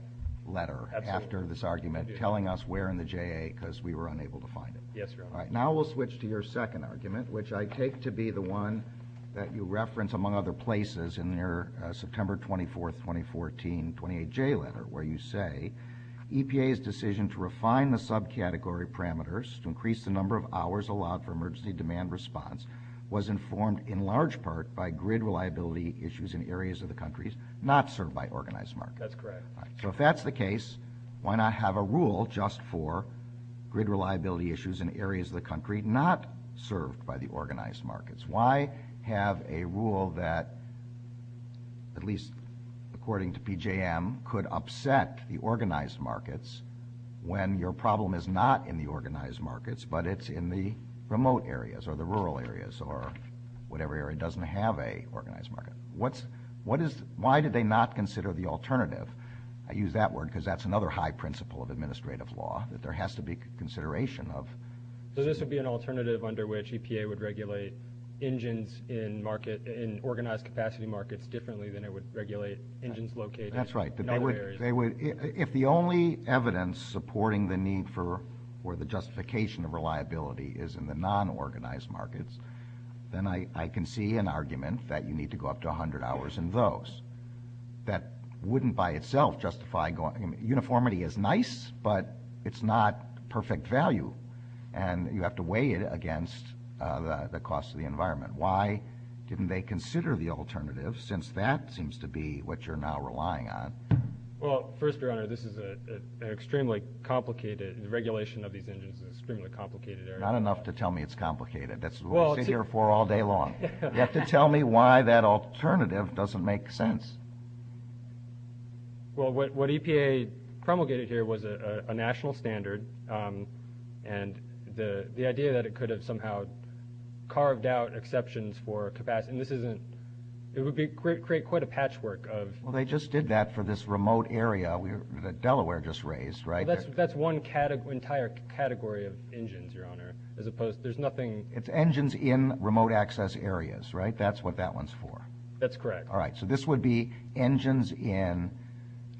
letter after this argument telling us where in the JA, because we were unable to find it. Now we'll switch to your second argument, which I take to be the one that you reference, among other places, in your September 24, 2014, 28 JA letter, where you say, EPA's decision to refine the subcategory parameters to increase the number of hours allowed for emergency demand response was informed in large part by grid reliability issues in areas of the countries not served by organized markets. That's correct. So if that's the case, why not have a rule just for grid reliability issues in areas of the country not served by the organized markets? Why have a rule that, at least according to PJM, could upset the organized markets when your problem is not in the organized markets, but it's in the remote areas or the rural areas or whatever area doesn't have an organized market? Why did they not consider the alternative? I use that word because that's another high principle of administrative law that there has to be consideration of. So this would be an alternative under which EPA would regulate engines in organized capacity markets differently than it would regulate engines located in other areas? That's right. If the only evidence supporting the need for or the justification of reliability is in the non-organized markets, then I can see an argument that you need to go up to 100 hours in those. That wouldn't by itself justify going up. Uniformity is nice, but it's not perfect value, and you have to weigh it against the cost of the environment. Why didn't they consider the alternative since that seems to be what you're now relying on? Well, first, Your Honor, this is an extremely complicated regulation of these engines in an extremely complicated area. Not enough to tell me it's complicated. That's what we'll sit here for all day long. You have to tell me why that alternative doesn't make sense. Well, what EPA promulgated here was a national standard and the idea that it could have somehow carved out exceptions for capacity. This would create quite a patchwork of... Well, they just did that for this remote area that Delaware just raised, right? That's one entire category of engines, Your Honor, as opposed to nothing... It's engines in remote access areas, right? That's what that one's for. That's correct. All right, so this would be engines in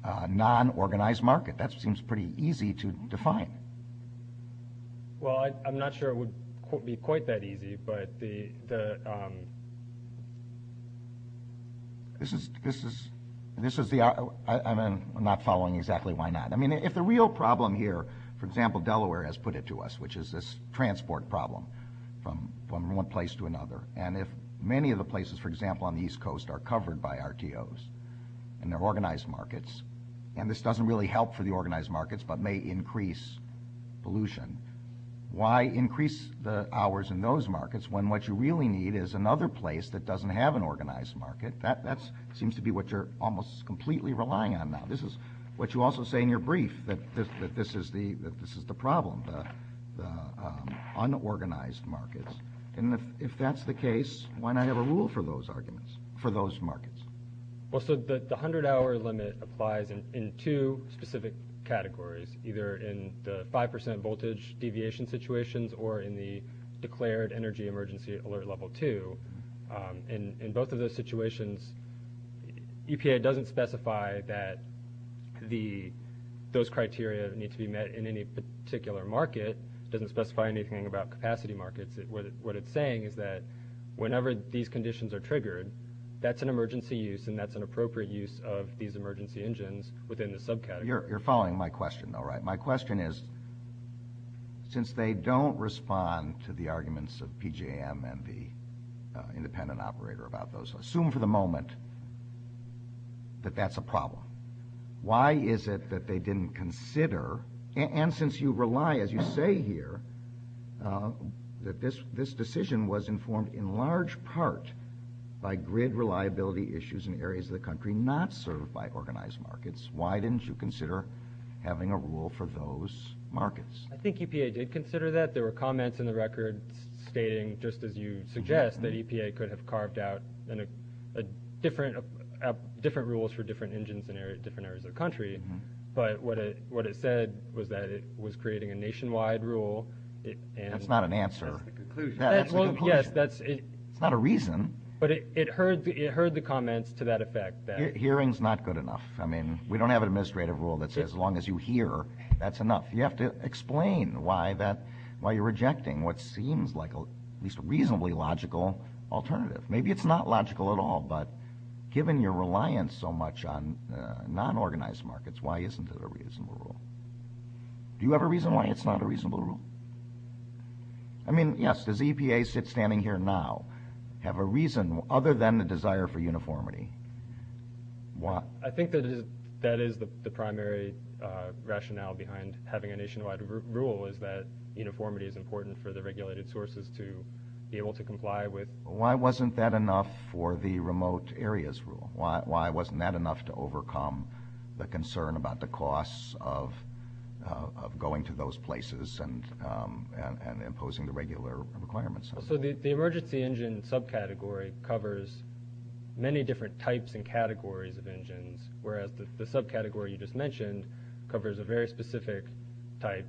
a non-organized market. That seems pretty easy to define. Well, I'm not sure it would be quite that easy, but the... This is the... I'm not following exactly why not. I mean, if the real problem here, for example, Delaware has put it to us, which is this transport problem from one place to another, and if many of the places, for example, on the East Coast are covered by RTOs and they're organized markets, and this doesn't really help for the organized markets but may increase pollution, why increase the hours in those markets when what you really need is another place that doesn't have an organized market? That seems to be what you're almost completely relying on now. This is what you also say in your brief, that this is the problem, the unorganized markets. And if that's the case, why not have a rule for those arguments for those markets? Well, so the 100-hour limit applies in two specific categories, either in the 5% voltage deviation situations or in the declared energy emergency alert level 2. In both of those situations, EPA doesn't specify that those criteria need to be met in any particular market. It doesn't specify anything about capacity markets. What it's saying is that whenever these conditions are triggered, that's an emergency use and that's an appropriate use of these emergency engines within the subcategory. You're following my question, though, right? My question is, since they don't respond to the arguments of PJM and the independent operator about those, assume for the moment that that's a problem. Why is it that they didn't consider, and since you rely, as you say here, that this decision was informed in large part by grid reliability issues in areas of the country not served by organized markets, why didn't you consider having a rule for those markets? I think EPA did consider that. There were comments in the record stating, just as you suggest, that EPA could have carved out different rules for different engines in different areas of the country. But what it said was that it was creating a nationwide rule. That's not an answer. Well, yes, that's it. It's not a reason. But it heard the comments to that effect. Hearing's not good enough. I mean, we don't have an administrative rule that says as long as you hear, that's enough. You have to explain why you're rejecting what seems like at least a reasonably logical alternative. Maybe it's not logical at all, but given your reliance so much on non-organized markets, why isn't there a reasonable rule? Do you have a reason why it's not a reasonable rule? I mean, yes, does EPA, standing here now, have a reason other than a desire for uniformity? Why? I think that is the primary rationale behind having a nationwide rule, is that uniformity is important for the regulated sources to be able to comply with. Why wasn't that enough for the remote areas rule? Why wasn't that enough to overcome the concern about the costs of going to those places and imposing the regular requirements on them? So the emergency engine subcategory covers many different types and categories of engines, whereas the subcategory you just mentioned covers a very specific type,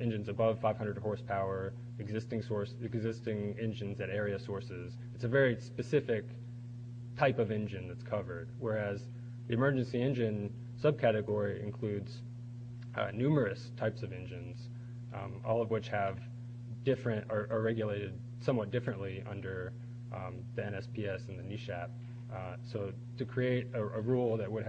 engines above 500 horsepower, existing engines at area sources. It's a very specific type of engine that's covered, whereas the emergency engine subcategory includes numerous types of engines, all of which are regulated somewhat differently under the NSPS and the NESHAP. So to create a rule that would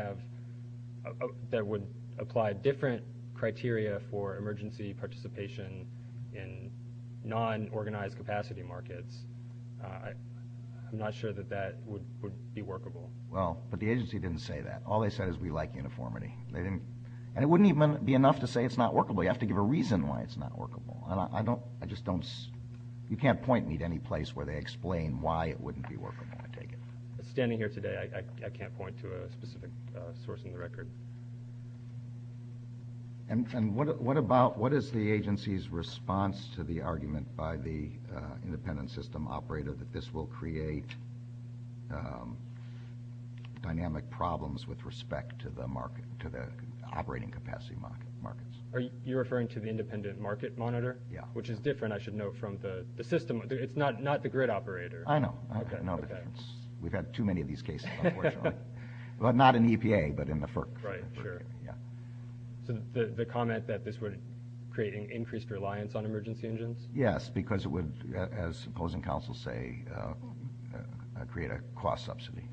apply different criteria for emergency participation in non-organized capacity markets, I'm not sure that that would be workable. Well, but the agency didn't say that. All they said is we like uniformity. And it wouldn't even be enough to say it's not workable. You have to give a reason why it's not workable. You can't point me to any place where they explain why it wouldn't be workable. Standing here today, I can't point to a specific source in the record. And what is the agency's response to the argument by the independent system operator that this will create dynamic problems with respect to the operating capacity markets? Are you referring to the independent market monitor? Yeah. Which is different, I should note, from the system. It's not the grid operator. I know. We've had too many of these cases. Well, not in EPA, but in the FERC. Right, sure. The comment that this would create an increased reliance on emergency engines? Yes, because it would, as opposing counsels say, create a cost subsidy.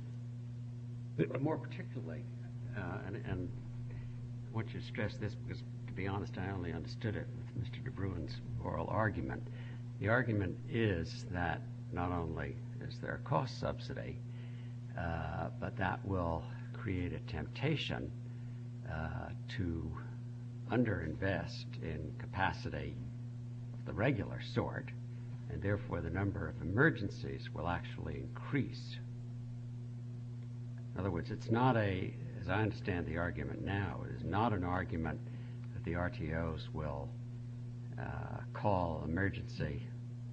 More particularly, and I want to stress this because, to be honest, I only understood it with Mr. DeBruin's oral argument. The argument is that not only is there a cost subsidy, but that will create a temptation to underinvest in capacity of the regular sort, and therefore the number of emergencies will actually increase. In other words, it's not a, as I understand the argument now, it is not an argument that the RTOs will call emergency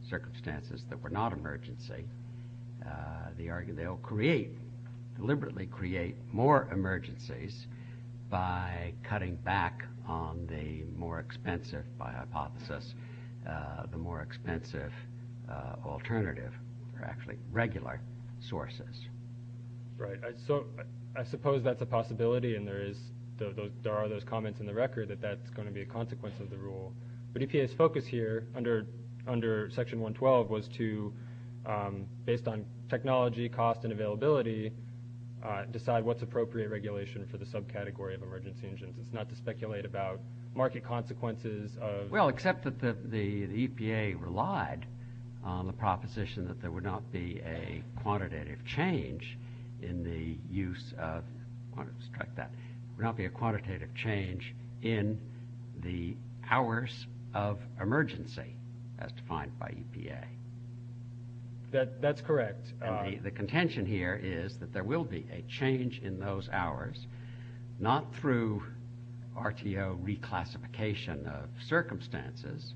circumstances that were not emergency. They'll deliberately create more emergencies by cutting back on the more expensive, by hypothesis, the more expensive alternative, or actually regular sources. Right. So I suppose that's a possibility, and there are those comments in the record that that's going to be a consequence of the rule. But EPA's focus here under Section 112 was to, based on technology, cost, and availability, decide what's appropriate regulation for the subcategory of emergency engines. It's not to speculate about market consequences of- Well, except that the EPA relied on the proposition that there would not be a quantitative change in the use of- I want to strike that. There would not be a quantitative change in the hours of emergency as defined by EPA. That's correct. The contention here is that there will be a change in those hours, not through RTO reclassification of circumstances,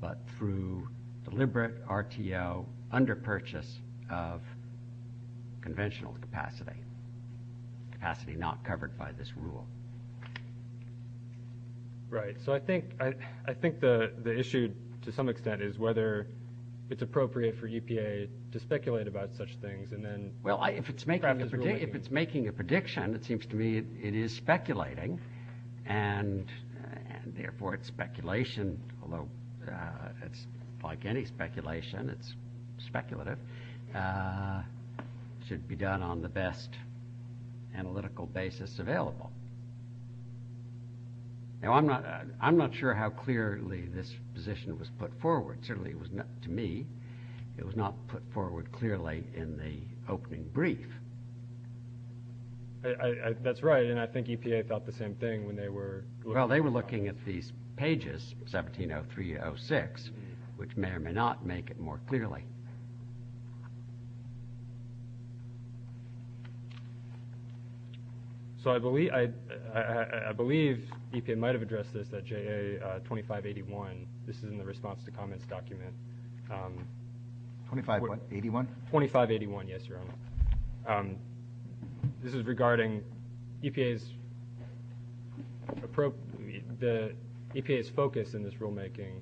but through deliberate RTO underpurchase of conventional capacity, capacity not covered by this rule. Right. So I think the issue, to some extent, is whether it's appropriate for EPA to speculate about such things and then- Well, if it's making a prediction, it seems to me it is speculating, and therefore it's speculation, although it's like any speculation. It's speculative. It should be done on the best analytical basis available. Now, I'm not sure how clearly this position was put forward. To me, it was not put forward clearly in the opening brief. That's right, and I think EPA thought the same thing when they were- Well, they were looking at these pages, 17-0306, which may or may not make it more clearly. So I believe EPA might have addressed this at J.A. 2581. This is in the response to comments document. 25 what, 81? 2581, yes, Your Honor. This is regarding the EPA's focus in this rulemaking,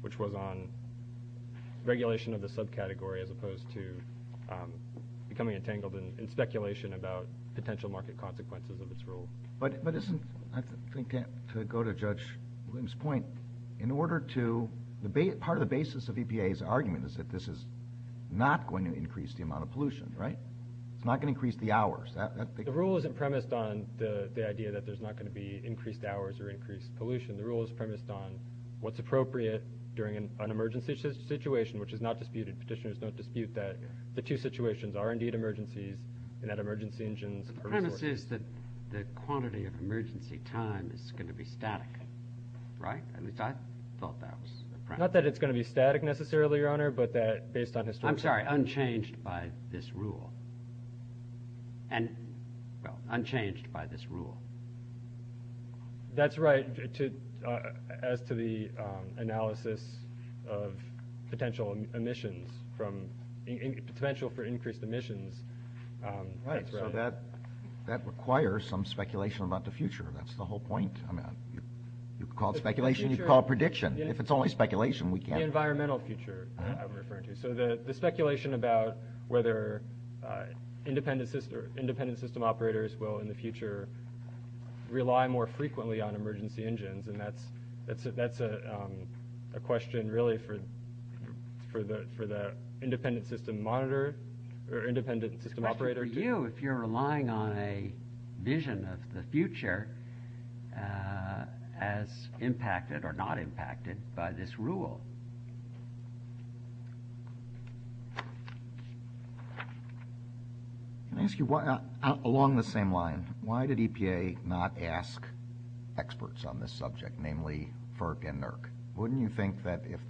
which was on regulation of the subcategory as opposed to becoming entangled in speculation about potential market consequences of this rule. But isn't-I think to go to Judge Williams' point, in order to-part of the basis of EPA's argument is that this is not going to increase the amount of pollution, right? It's not going to increase the hours. The rule isn't premised on the idea that there's not going to be increased hours or increased pollution. The rule is premised on what's appropriate during an emergency situation, which is not disputed. Petitioners don't dispute that the two situations are indeed emergencies, and that emergency engines are- The premise is that the quantity of emergency time is going to be static, right? I thought that was the premise. Not that it's going to be static necessarily, Your Honor, but that based on- And-well, unchanged by this rule. That's right. As to the analysis of potential emissions from-potential for increased emissions. Right. So that requires some speculation about the future. That's the whole point. I mean, you call it speculation, you call it prediction. If it's only speculation, we can't- The environmental future I'm referring to. So the speculation about whether independent system operators will in the future rely more frequently on emergency engines. And that's a question really for the independent system monitor or independent system operators. For you, if you're relying on a vision of the future as impacted or not impacted by this rule. Can I ask you, along the same line, why did EPA not ask experts on this subject, namely FERC and NERC? Wouldn't you think that if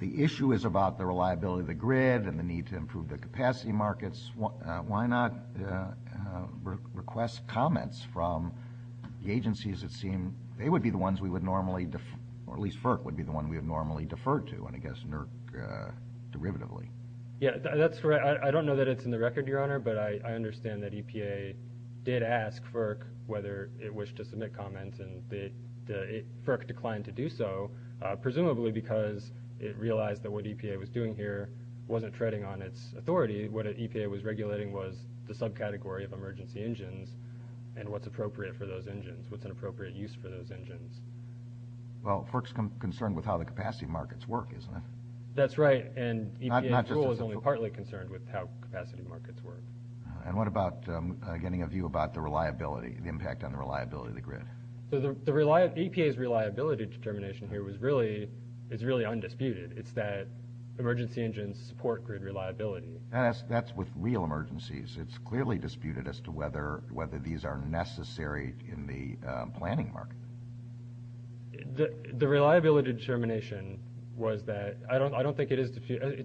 the issue is about the reliability of the grid and the need to improve the capacity markets, why not request comments from the agencies that seem- they would be the ones we would normally- the ones we would normally defer to, and I guess NERC derivatively? Yeah, that's right. I don't know that it's in the record, Your Honor, but I understand that EPA did ask FERC whether it wished to submit comments, and FERC declined to do so, presumably because it realized that what EPA was doing here wasn't treading on its authority. What EPA was regulating was the subcategory of emergency engines and what's appropriate for those engines, what's an appropriate use for those engines. Well, FERC's concerned with how the capacity markets work, isn't it? That's right. And EPA's rule is only partly concerned with how capacity markets work. And what about getting a view about the reliability, the impact on the reliability of the grid? The EPA's reliability determination here is really undisputed. It's that emergency engines support grid reliability. That's with real emergencies. It's clearly disputed as to whether these are necessary in the planning market. The reliability determination was that – I don't think it is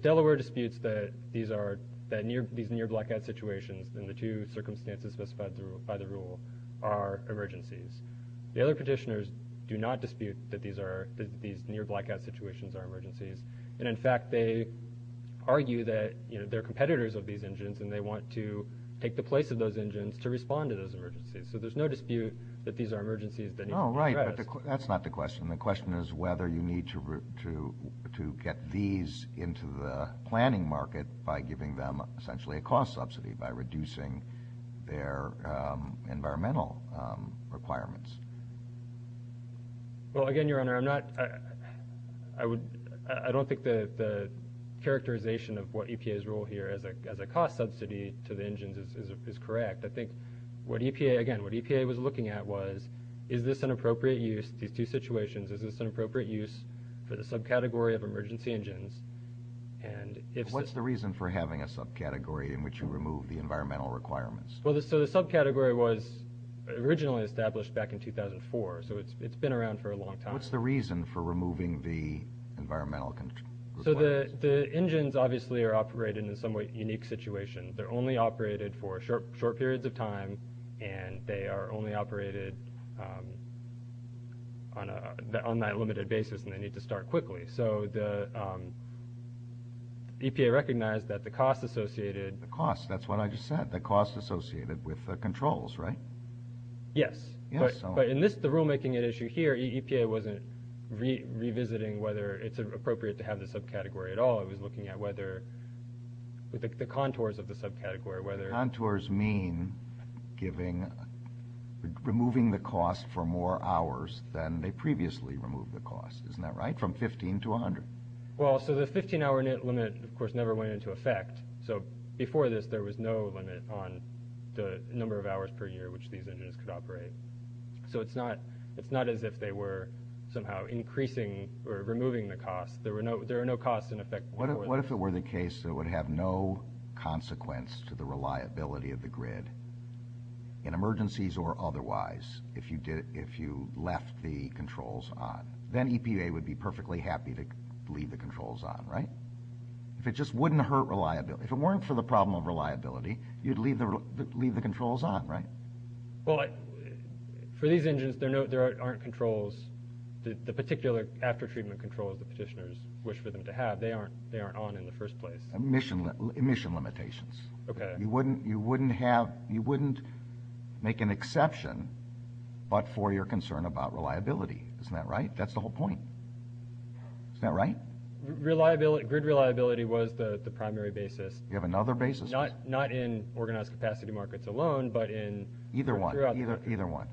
– Delaware disputes that these are – that these near blackout situations and the two circumstances specified by the rule are emergencies. The other petitioners do not dispute that these are – that these near blackout situations are emergencies. And, in fact, they argue that they're competitors of these engines and they want to take the place of those engines to respond to those emergencies. So there's no dispute that these are emergencies that need to be addressed. Oh, right. That's not the question. The question is whether you need to get these into the planning market by giving them essentially a cost subsidy by reducing their environmental requirements. Well, again, Your Honor, I'm not – I would – I don't think that the characterization of what EPA's role here as a cost subsidy to the engines is correct. I think what EPA – again, what EPA was looking at was, is this an appropriate use – these two situations, is this an appropriate use for the subcategory of emergency engines? And if – What's the reason for having a subcategory in which you remove the environmental requirements? Well, so the subcategory was originally established back in 2004, so it's been around for a long time. What's the reason for removing the environmental – So the engines obviously are operated in a somewhat unique situation. They're only operated for short periods of time, and they are only operated on that limited basis, and they need to start quickly. So the EPA recognized that the cost associated – The cost, that's what I just said, the cost associated with the controls, right? Yes. Yes. But in this – the rulemaking issue here, EPA wasn't revisiting whether it's appropriate to have the subcategory at all. It was looking at whether – the contours of the subcategory, whether – Contours mean giving – removing the cost for more hours than they previously removed the cost. Isn't that right? From 15 to 100. Well, so the 15-hour limit, of course, never went into effect. So before this, there was no limit on the number of hours per year which these engines could operate. So it's not as if they were somehow increasing or removing the cost. There were no costs in effect. What if it were the case that it would have no consequence to the reliability of the grid in emergencies or otherwise if you left the controls on? Then EPA would be perfectly happy to leave the controls on, right? It just wouldn't hurt reliability. If it weren't for the problem of reliability, you'd leave the controls on, right? Well, for these engines, there aren't controls. The particular after-treatment controls the petitioners wish for them to have, they aren't on in the first place. Emission limitations. Okay. You wouldn't have – you wouldn't make an exception but for your concern about reliability. Isn't that right? That's the whole point. Isn't that right? Grid reliability was the primary basis. You have another basis. Not in organized capacity markets alone but in – Either one. Either one.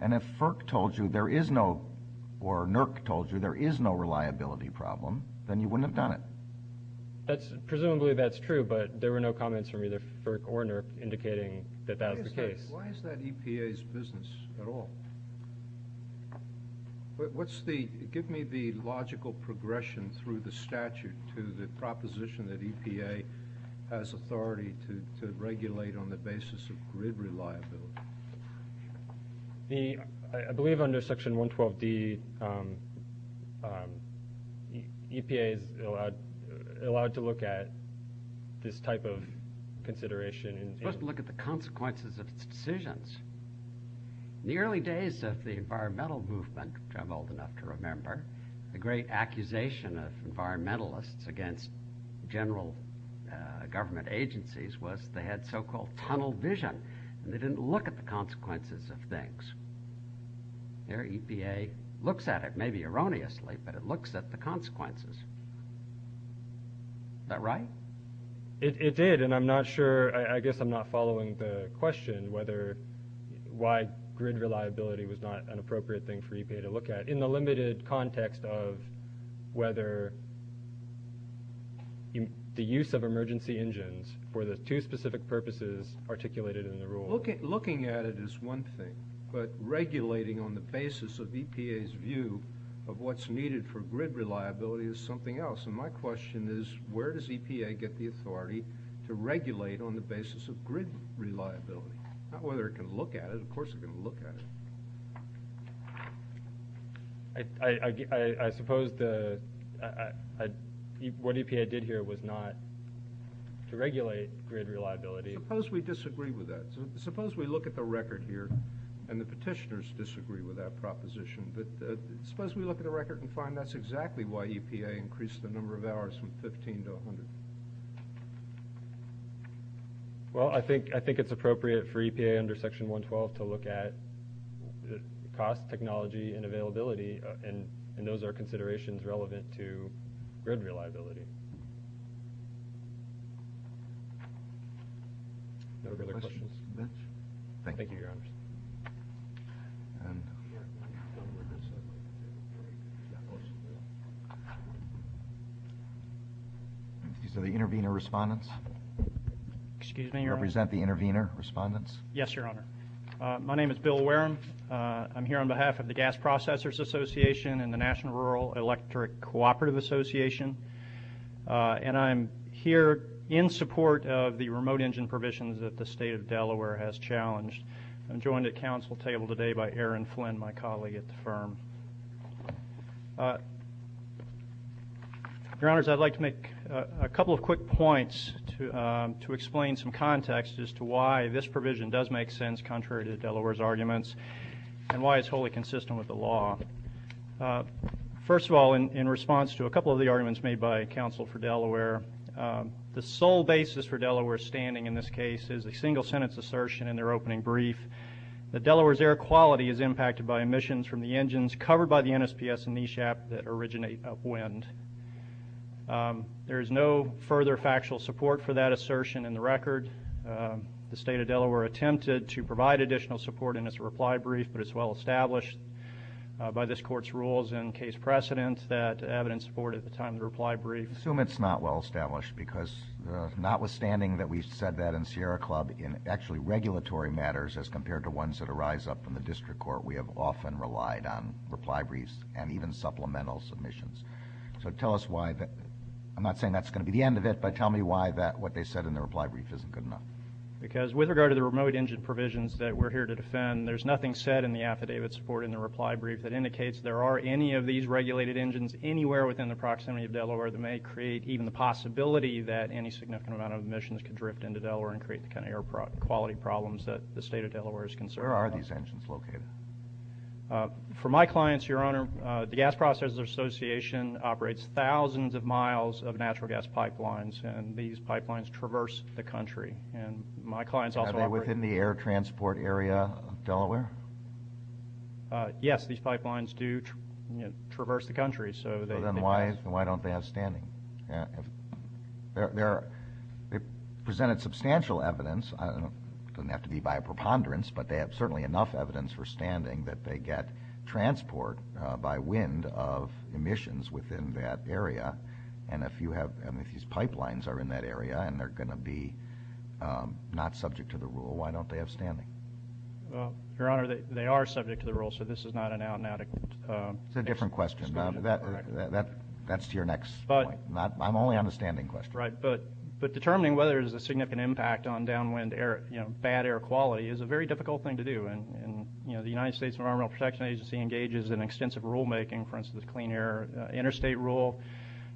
And if FERC told you there is no – or NERC told you there is no reliability problem, then you wouldn't have done it. Presumably that's true, but there were no comments from either FERC or NERC indicating that that was the case. Why is that EPA's business at all? What's the – give me the logical progression through the statute to the proposition that EPA has authority to regulate on the basis of grid reliability. I believe under Section 112B, EPA is allowed to look at this type of consideration. It's supposed to look at the consequences of decisions. In the early days of the environmental movement, which I'm old enough to remember, a great accusation of environmentalists against general government agencies was they had so-called tunnel vision and they didn't look at the consequences of things. There, EPA looks at it, maybe erroneously, but it looks at the consequences. Is that right? It did, and I'm not sure – I guess I'm not following the question why grid reliability was not an appropriate thing for EPA to look at in the limited context of whether the use of emergency engines for the two specific purposes articulated in the rule. Looking at it is one thing, but regulating on the basis of EPA's view of what's needed for grid reliability is something else. My question is where does EPA get the authority to regulate on the basis of grid reliability? Not whether it can look at it. Of course it can look at it. I suppose what EPA did here was not to regulate grid reliability. Suppose we disagree with that. Suppose we look at the record here, and the petitioners disagree with that proposition. Suppose we look at the record and find that's exactly why EPA increased the number of hours from 15 to 100. Well, I think it's appropriate for EPA under Section 112 to look at cost, technology, and availability, and those are considerations relevant to grid reliability. Are there other questions? Thank you. Yes, sir. These are the intervener respondents. Excuse me, Your Honor. Represent the intervener respondents. Yes, Your Honor. My name is Bill Wareham. I'm here on behalf of the Gas Processors Association and the National Rural Electric Cooperative Association, and I'm here in support of the remote engine provisions that the State of Delaware has challenged. I'm joined at Council table today by Erin Flynn, my colleague at the firm. Your Honors, I'd like to make a couple of quick points to explain some context as to why this provision does make sense, contrary to Delaware's arguments, and why it's wholly consistent with the law. First of all, in response to a couple of the arguments made by Council for Delaware, the sole basis for Delaware standing in this case is a single-sentence assertion in their opening brief that Delaware's air quality is impacted by emissions from the engines covered by the NSPS and NESHAP that originate upwind. There is no further factual support for that assertion in the record. The State of Delaware attempted to provide additional support in its reply brief, but it's well established by this Court's rules and case precedents that evidence support at the time of the reply brief. I assume it's not well established because notwithstanding that we've said that in Sierra Club, in actually regulatory matters as compared to ones that arise up in the District Court, we have often relied on reply briefs and even supplemental submissions. So tell us why that... I'm not saying that's going to be the end of it, but tell me why what they said in the reply brief isn't good enough. Because with regard to the remote engine provisions that we're here to defend, there's nothing said in the affidavit supporting the reply brief anywhere within the proximity of Delaware that may create even the possibility that any significant amount of emissions could drift into Delaware and create the kind of air quality problems that the State of Delaware is concerned with. Where are these engines located? For my clients, Your Honor, the Gas Processors Association operates thousands of miles of natural gas pipelines, and these pipelines traverse the country. Are they within the air transport area of Delaware? Yes, these pipelines do traverse the country. Then why don't they have standing? They presented substantial evidence. It doesn't have to be by preponderance, but they have certainly enough evidence for standing that they get transport by wind of emissions within that area. And if these pipelines are in that area and they're going to be not subject to the rule, why don't they have standing? Your Honor, they are subject to the rule, so this is not an out-and-out... It's a different question. That's your next point. I'm only on the standing question. Right, but determining whether there's a significant impact on downwind air, bad air quality, is a very difficult thing to do. The United States Environmental Protection Agency engages in extensive rulemaking, for instance, the Clean Air Interstate Rule,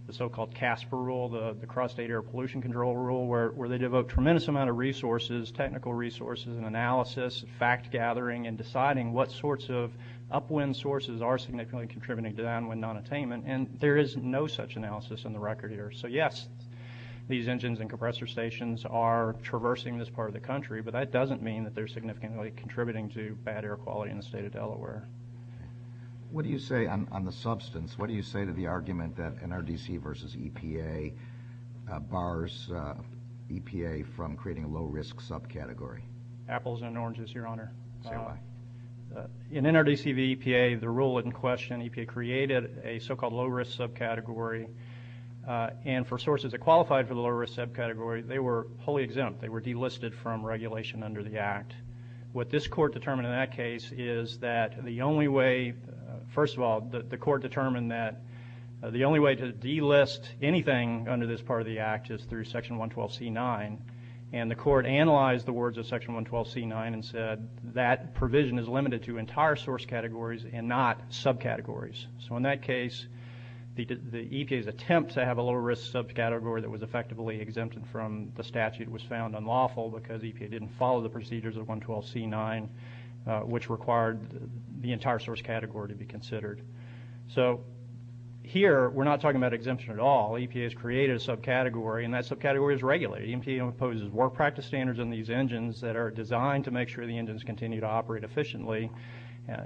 the so-called CASPER Rule, the Cross-State Air Pollution Control Rule, where they devote a tremendous amount of resources, technical resources and analysis, fact-gathering, and deciding what sorts of upwind sources are significantly contributing to downwind nonattainment. And there is no such analysis in the record here. So, yes, these engines and compressor stations are traversing this part of the country, but that doesn't mean that they're significantly contributing to bad air quality in the state of Delaware. What do you say on the substance? What do you say to the argument that NRDC versus EPA bars EPA from creating a low-risk subcategory? Apples and oranges, Your Honor. In NRDC v. EPA, the rule in question, EPA created a so-called low-risk subcategory, and for sources that qualified for the low-risk subcategory, they were wholly exempt. They were delisted from regulation under the Act. What this Court determined in that case is that the only way... First of all, the Court determined that the only way to delist anything under this part of the Act is through Section 112c9, and the Court analyzed the words of Section 112c9 and said that provision is limited to entire source categories and not subcategories. So in that case, the EPA's attempt to have a low-risk subcategory that was effectively exempted from the statute was found unlawful because EPA didn't follow the procedures of 112c9, which required the entire source category to be considered. So here we're not talking about exemption at all. EPA has created a subcategory, and that subcategory is regulated. EPA imposes work practice standards on these engines that are designed to make sure the engines continue to operate efficiently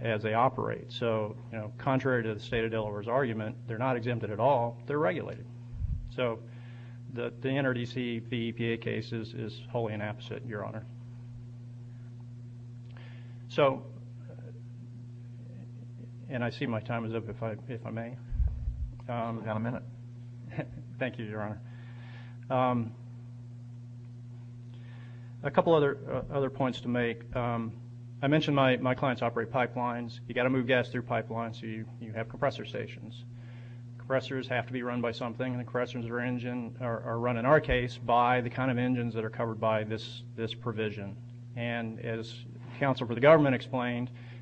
as they operate. So, you know, contrary to the State of Delaware's argument, they're not exempted at all. They're regulated. So the NRDC-PEPA case is wholly inapposite, Your Honor. So, and I see my time is up, if I may. I've got a minute. Thank you, Your Honor. A couple other points to make. I mentioned my clients operate pipelines. You've got to move gas through pipelines, so you have compressor stations. Compressors have to be run by something, and compressors are run, in our case, by the kind of engines that are covered by this provision.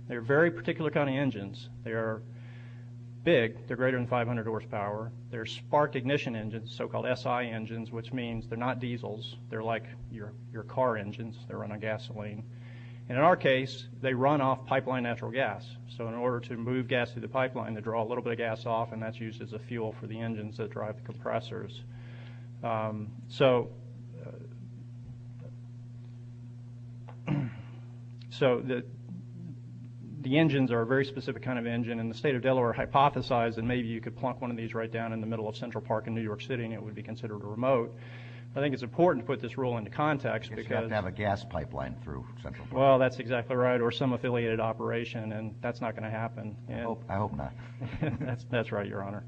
They're big. They're greater than 500 horsepower. They're sparked ignition engines, so-called SI engines, which means they're not diesels. They're like your car engines. They run on gasoline. And in our case, they run off pipeline natural gas. So in order to move gas through the pipeline, they draw a little bit of gas off, and that's used as a fuel for the engines that drive the compressors. So the engines are a very specific kind of engine, and the State of Delaware hypothesized that maybe you could plunk one of these right down in the middle of Central Park in New York City, and it would be considered a remote. I think it's important to put this rule into context because- It's got to have a gas pipeline through Central Park. Well, that's exactly right, or some affiliated operation, and that's not going to happen. I hope not. That's right, Your Honor.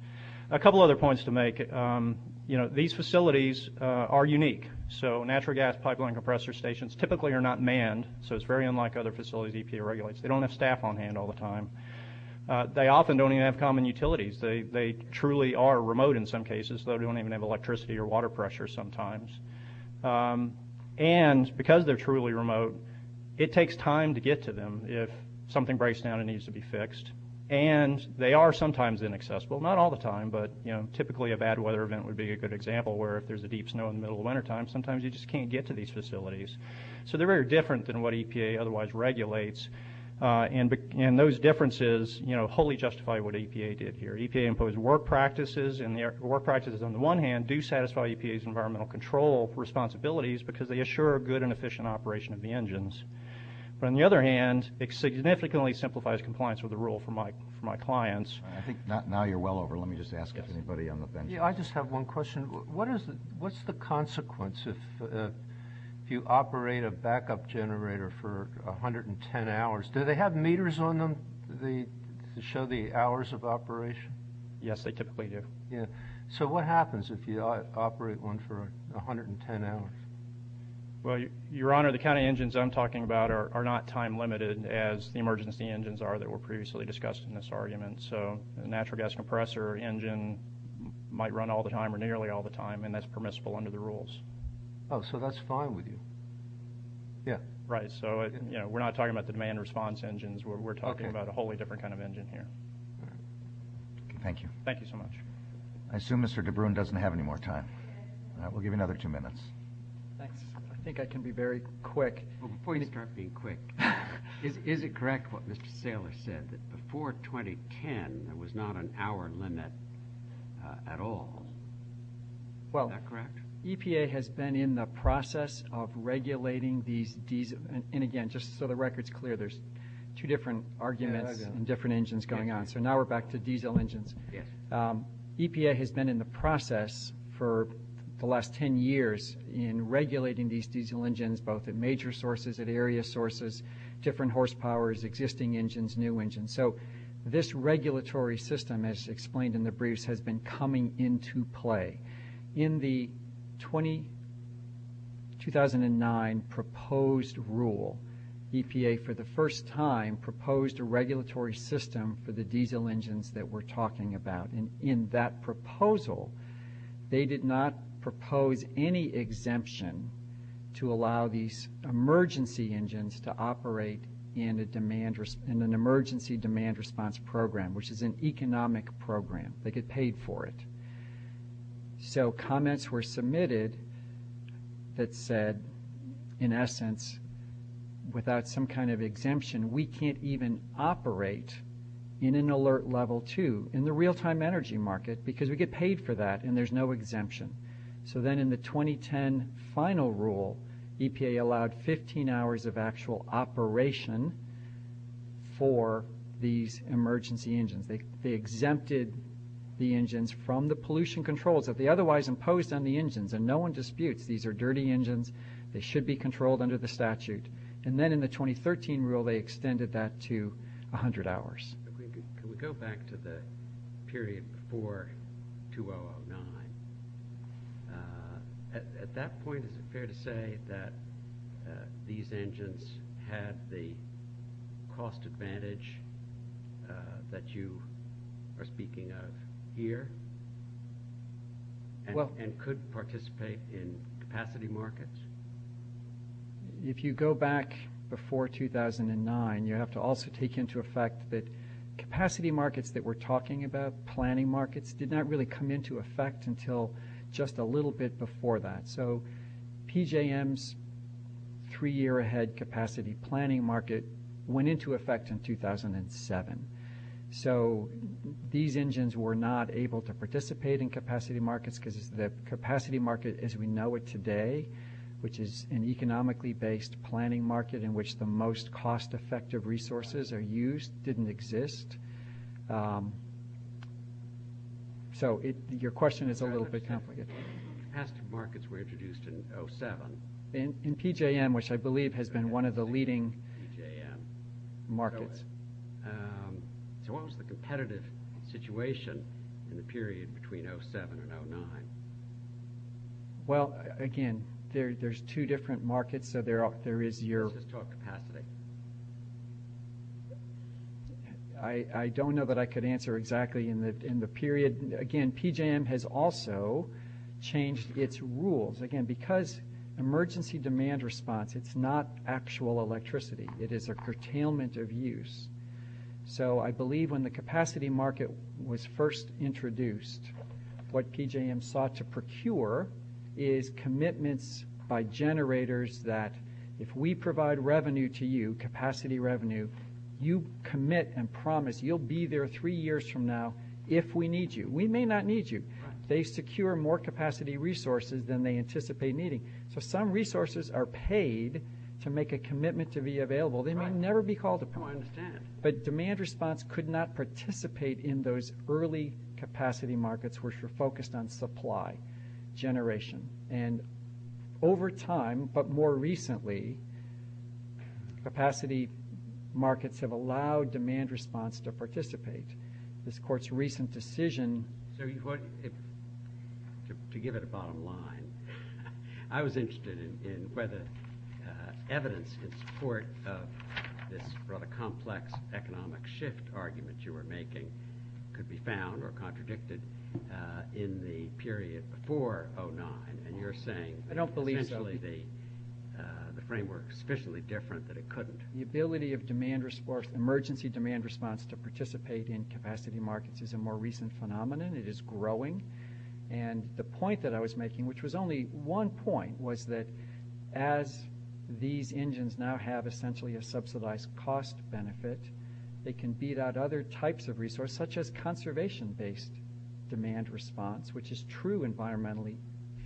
A couple other points to make. You know, these facilities are unique. So natural gas pipeline compressor stations typically are not manned, so it's very unlike other facilities EPA regulates. They don't have staff on hand all the time. They often don't even have common utilities. They truly are remote in some cases. They don't even have electricity or water pressure sometimes. And because they're truly remote, it takes time to get to them if something breaks down and needs to be fixed, and they are sometimes inaccessible. Not all the time, but, you know, typically a bad weather event would be a good example where if there's a deep snow in the middle of wintertime, sometimes you just can't get to these facilities. So they're very different than what EPA otherwise regulates, and those differences, you know, wholly justify what EPA did here. EPA imposed work practices, and their work practices, on the one hand, do satisfy EPA's environmental control responsibilities because they assure a good and efficient operation of the engines. But on the other hand, it significantly simplifies compliance with the rule for my clients. I think now you're well over. Let me just ask anybody on the bench. Yeah, I just have one question. What's the consequence if you operate a backup generator for 110 hours? Do they have meters on them that show the hours of operation? Yes, they typically do. So what happens if you operate one for 110 hours? Well, Your Honor, the kind of engines I'm talking about are not time-limited as the emergency engines are that were previously discussed in this argument. So a natural gas compressor engine might run all the time or nearly all the time, and that's permissible under the rules. Oh, so that's fine with you. Right, so we're not talking about the demand response engines. We're talking about a wholly different kind of engine here. Thank you. Thank you so much. I assume Mr. DeBruin doesn't have any more time. We'll give you another two minutes. I think I can be very quick. Before you start being quick, is it correct what Mr. Saylor said, that before 2010 there was not an hour limit at all? Is that correct? Well, EPA has been in the process of regulating these diesel engines. And, again, just so the record's clear, there's two different arguments and different engines going on. So now we're back to diesel engines. Yes. EPA has been in the process for the last 10 years in regulating these diesel engines both at major sources, at area sources, different horsepowers, existing engines, new engines. So this regulatory system, as explained in the briefs, has been coming into play. In the 2009 proposed rule, EPA for the first time proposed a regulatory system for the diesel engines that we're talking about. And in that proposal they did not propose any exemption to allow these emergency engines to operate in an emergency demand response program, which is an economic program. They get paid for it. So comments were submitted that said, in essence, without some kind of exemption we can't even operate in an alert level 2. In the real-time energy market, because we get paid for that and there's no exemption. So then in the 2010 final rule, EPA allowed 15 hours of actual operation for these emergency engines. They exempted the engines from the pollution controls that they otherwise imposed on the engines. And no one disputes these are dirty engines. They should be controlled under the statute. And then in the 2013 rule they extended that to 100 hours. Can we go back to the period before 2009? At that point is it fair to say that these engines had the cost advantage that you are speaking of here and could participate in capacity markets? If you go back before 2009, you have to also take into effect that capacity markets that we're talking about, planning markets, did not really come into effect until just a little bit before that. So PJM's three-year ahead capacity planning market went into effect in 2007. So these engines were not able to participate in capacity markets because the capacity markets were introduced in 2007. And PJM, which I believe has been one of the leading markets. So what was the competitive situation in the period between 2007 and 2009? One is the cost advantage. There's two different markets, so there is your capacity. I don't know that I could answer exactly in the period. Again, PJM has also changed its rules. Again, because emergency demand response, it's not actual electricity. It is a curtailment of use. So I believe when the capacity market was first introduced, what PJM sought to procure is commitments by generators that if we provide revenue to you, capacity revenue, you commit and promise you'll be there three years from now if we need you. We may not need you. They secure more capacity resources than they anticipate needing. So some resources are paid to make a commitment to be available. They may never be called upon, but demand response could not participate in those early capacity markets which were focused on supply generation. And over time, but more recently, capacity markets have allowed demand response to participate. This court's recent decision to give it a bottom line, I was interested in whether evidence in support of this sort of complex economic shift argument you were making could be found or contradicted in the period before 2009. And you're saying essentially the framework is sufficiently different that it couldn't. The ability of emergency demand response to participate in capacity markets is a more recent phenomenon. It is growing. And the point that I was making, which was only one point, was that as these engines now have essentially a subsidized cost benefit, they can beat out other types of resources, such as conservation-based demand response, which is true environmentally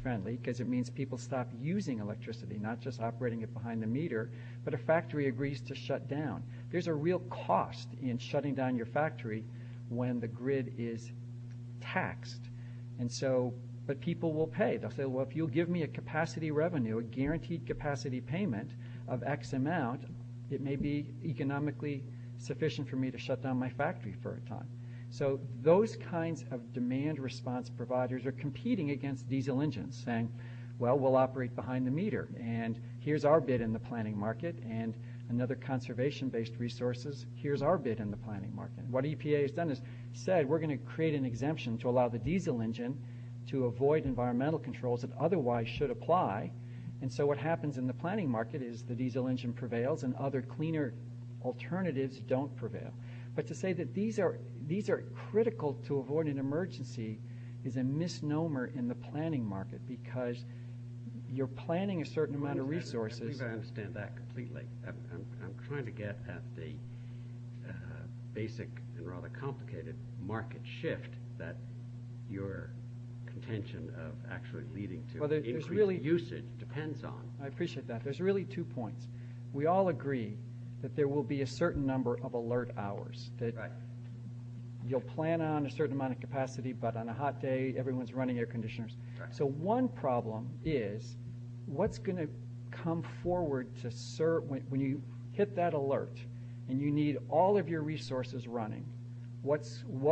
friendly because it means people stop using electricity, not just operating it behind the meter, but a factory agrees to shut down. There's a real cost in shutting down your factory when the grid is taxed. But people will pay. They'll say, well, if you'll give me a capacity revenue, a guaranteed capacity payment of X amount, it may be economically sufficient for me to shut down my factory for a time. So those kinds of demand response providers are competing against diesel engines saying, well, we'll operate behind the meter, and here's our bid in the planning market. And another conservation-based resources, here's our bid in the planning market. What EPA has done is said, we're going to create an exemption to allow the diesel engine to avoid environmental controls that otherwise should apply. And so what happens in the planning market is the diesel engine prevails, and other cleaner alternatives don't prevail. But to say that these are critical to avoid an emergency is a misnomer in the planning market because you're planning a certain amount of resources. I think I understand that completely. I'm trying to get at the basic and rather complicated market shift that your contention of actually leading to increased usage depends on. I appreciate that. There's really two points. We all agree that there will be a certain number of alert hours. You'll plan on a certain amount of capacity, but on a hot day, everyone's running air conditioners. So one problem is what's going to come forward when you hit that alert, and you need all of your resources running, what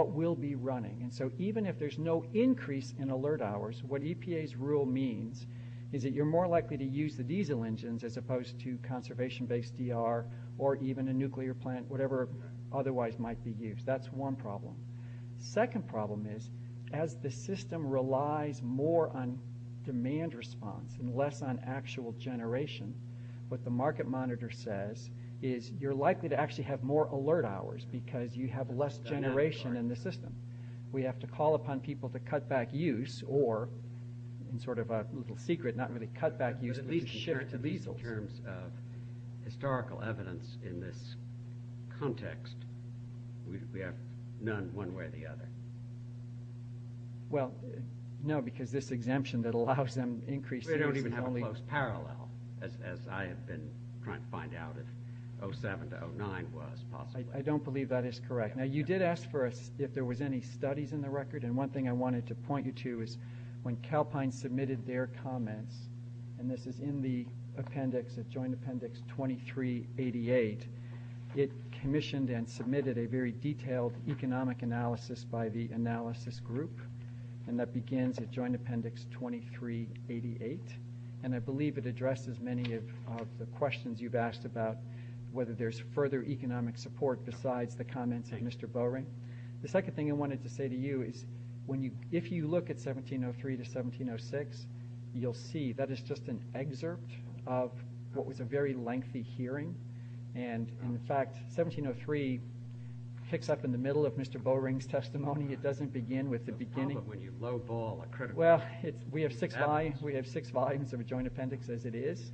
will be running? And so even if there's no increase in alert hours, what EPA's rule means is that you're more likely to use the diesel engines as opposed to conservation-based ER or even a nuclear plant, whatever otherwise might be used. That's one problem. Second problem is as the system relies more on demand response and less on actual generation, what the market monitor says is you're likely to actually have more alert hours because you have less generation in the system. We have to call upon people to cut back use or in sort of a little secret, not really cut back use, but to shift to diesel. So in all terms of historical evidence in this context, we have none one way or the other. Well, no, because this exemption that allows them to increase. We don't even have a close parallel as I have been trying to find out if 07 to 09 was possible. I don't believe that is correct. Now you did ask for us if there was any studies in the record, and one thing I wanted to point you to is when Calpine submitted their comments, and this is in the appendix, the joint appendix 2388, it commissioned and submitted a very detailed economic analysis by the analysis group, and that begins at joint appendix 2388. And I believe it addressed as many of the questions you've asked about whether there's further economic support besides the comments of Mr. Bowring. The second thing I wanted to say to you is if you look at 1703 to 1706, you'll see that it's just an excerpt of what was a very lengthy hearing. And in fact, 1703 picks up in the middle of Mr. Bowring's testimony. It doesn't begin with the beginning. Well, we have six lines. We have six volumes of a joint appendix as it is,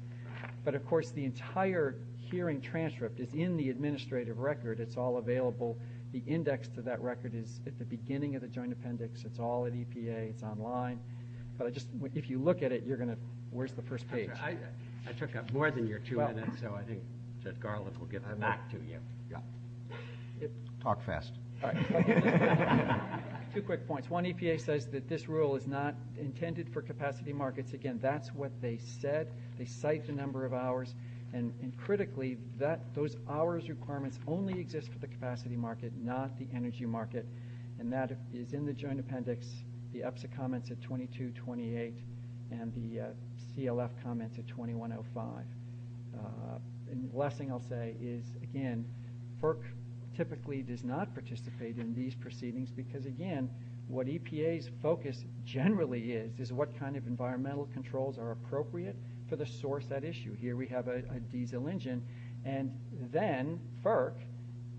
but of course the entire hearing transcript is in the administrative record. It's all available. The index to that record is at the beginning of the joint appendix. It's all at EPA. It's online. If you look at it, you're going to – where's the first page? I took up more than your two minutes, so I think that Garlick will give it back to you. Yeah. Talk fast. All right. Two quick points. One, EPA says that this rule is not intended for capacity markets. Again, that's what they said. They cite the number of hours. And critically, those hours requirements only exist for the capacity market, not the energy market. And that is in the joint appendix. The EPSA comments at 2228 and the CLF comments at 2105. And the last thing I'll say is, again, FERC typically does not participate in these proceedings because, again, what EPA's focus generally is, is what kind of environmental controls are appropriate for the source of that issue. Here we have a diesel engine. And then FERC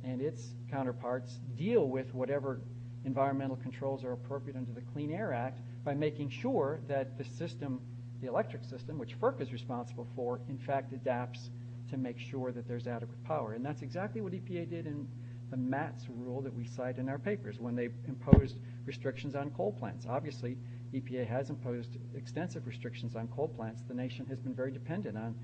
and its counterparts deal with whatever environmental controls are appropriate under the Clean Air Act by making sure that the system, the electric system, which FERC is responsible for, in fact, adapts to make sure that there's adequate power. And that's exactly what EPA did in Matt's rule that we cite in our papers when they imposed restrictions on coal plants. Obviously, EPA has imposed extensive restrictions on coal plants. The nation has been very dependent on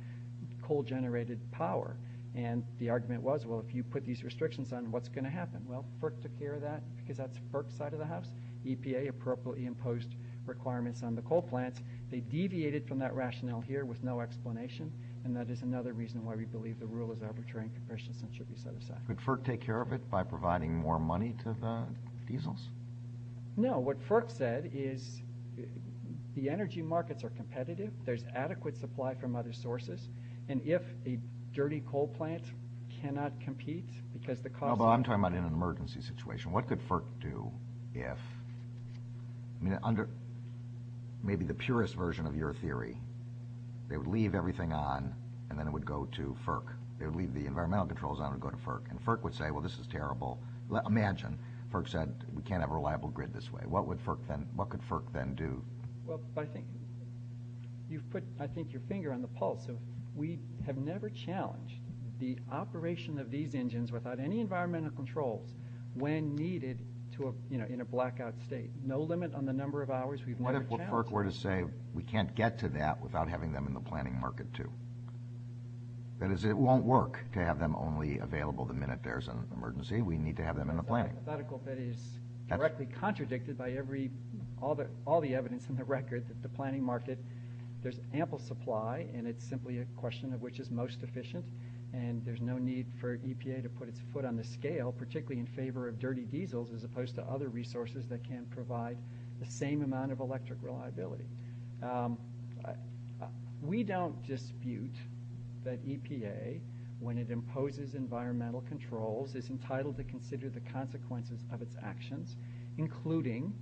coal-generated power. And the argument was, well, if you put these restrictions on, what's going to happen? Well, FERC took care of that because that's FERC's side of the house. EPA appropriately imposed requirements on the coal plant. They deviated from that rationale here with no explanation. And that is another reason why we believe the rule is overturing commercial systems should be set aside. Could FERC take care of it by providing more money to the diesels? No. What FERC said is the energy markets are competitive. There's adequate supply from other sources. And if a dirty coal plant cannot compete because the cost of the energy is too high, or it's an emergency situation, what could FERC do if, maybe the purest version of your theory, they would leave everything on and then it would go to FERC? They would leave the environmental controls on and go to FERC. And FERC would say, well, this is terrible. Imagine FERC said you can't have a reliable grid this way. What could FERC then do? Well, I think you've put, I think, your finger on the pulse. We have never challenged the operation of these engines without any environmental control when needed in a blackout state. No limit on the number of hours we've never challenged. What if FERC were to say we can't get to that without having them in the planning market, too? That is, it won't work to have them only available the minute there's an emergency. We need to have them in the planning. That hypothetical fit is directly contradicted by all the evidence in the record that the planning market, there's ample supply, and it's simply a question of which is most efficient, and there's no need for EPA to put its foot on the scale, particularly in favor of dirty diesels as opposed to other resources that can provide the same amount of electric reliability. We don't dispute that EPA, when it imposes environmental controls, is entitled to consider the consequences of its actions, including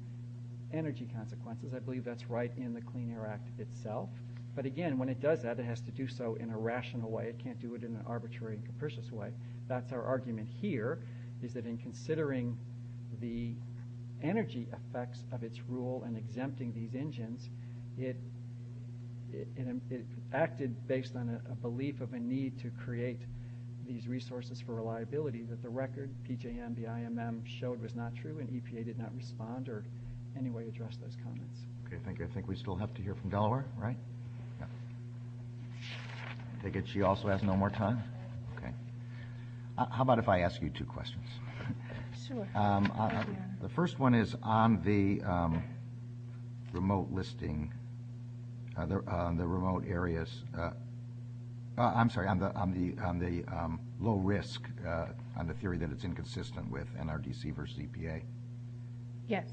energy consequences. I believe that's right in the Clean Air Act itself. But again, when it does that, it has to do so in a rational way. It can't do it in an arbitrary and capricious way. That's our argument here, is that in considering the energy effects of its rule and exempting these engines, it acted based on a belief of a need to create these resources for reliability that the record, PJMDIMM, showed was not true, and EPA did not respond or in any way address those comments. Okay, thank you. I think we still have to hear from Delaware, right? I take it she also has no more time? Okay. How about if I ask you two questions? Sure. The first one is on the remote listing, the remote areas. I'm sorry, on the low risk, on the theory that it's inconsistent with NRDC versus EPA. Yes.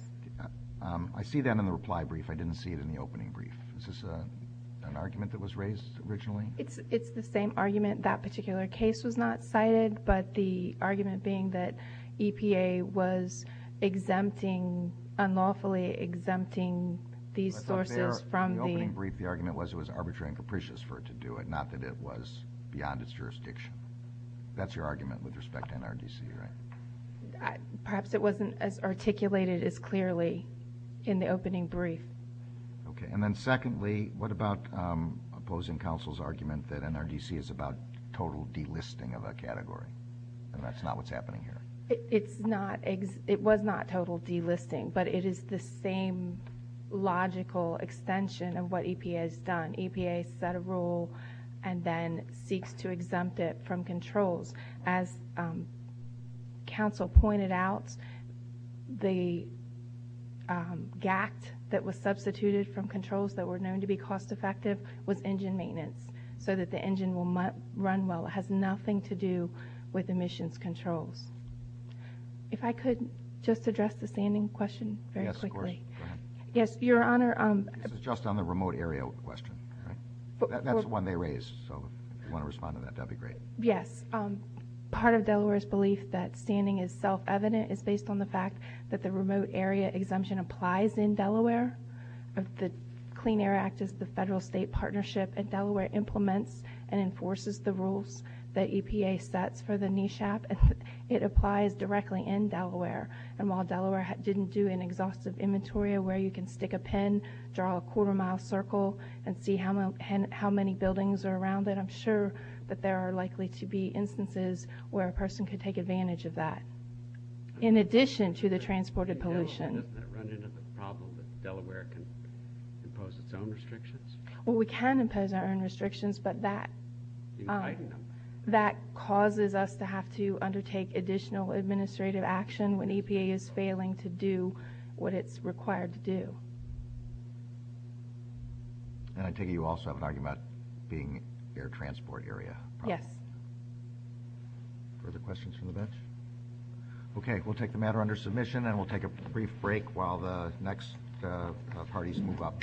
I see that in the reply brief. I didn't see it in the opening brief. Is this an argument that was raised originally? It's the same argument. That particular case was not cited, but the argument being that EPA was exempting, unlawfully exempting these sources from the— In the opening brief, the argument was it was arbitrary and capricious for it to do it, not that it was beyond its jurisdiction. That's your argument with respect to NRDC, right? Perhaps it wasn't as articulated as clearly in the opening brief. Okay. And then secondly, what about opposing counsel's argument that NRDC is about total delisting of a category, and that's not what's happening here? It was not total delisting, but it is the same logical extension of what EPA has done. EPA set a rule and then seeks to exempt it from controls. As counsel pointed out, the gap that was substituted from controls that were known to be cost-effective was engine maintenance so that the engine will run well. It has nothing to do with emissions control. If I could just address the standing question very quickly. Yes, of course. Yes, Your Honor. This is just on the remote area question. That's one they raised, so if you want to respond to that, that would be great. Yes. Part of Delaware's belief that standing is self-evident is based on the fact that the remote area exemption applies in Delaware. The Clean Air Act is the federal-state partnership that Delaware implements and enforces the rules that EPA sets for the NESHAP. It applies directly in Delaware. And while Delaware didn't do an exhaustive inventory of where you can stick a pen, draw a quarter-mile circle, and see how many buildings are around it, I'm sure that there are likely to be instances where a person could take advantage of that in addition to the transported pollution. Does that run into the problem that Delaware can impose its own restrictions? Well, we can impose our own restrictions, but that causes us to have to undertake additional administrative action when EPA is failing to do what it's required to do. And I take it you also are talking about being air transport area? Yes. Other questions from the bench? Okay, we'll take the matter under submission, and we'll take a brief break while the next parties move up.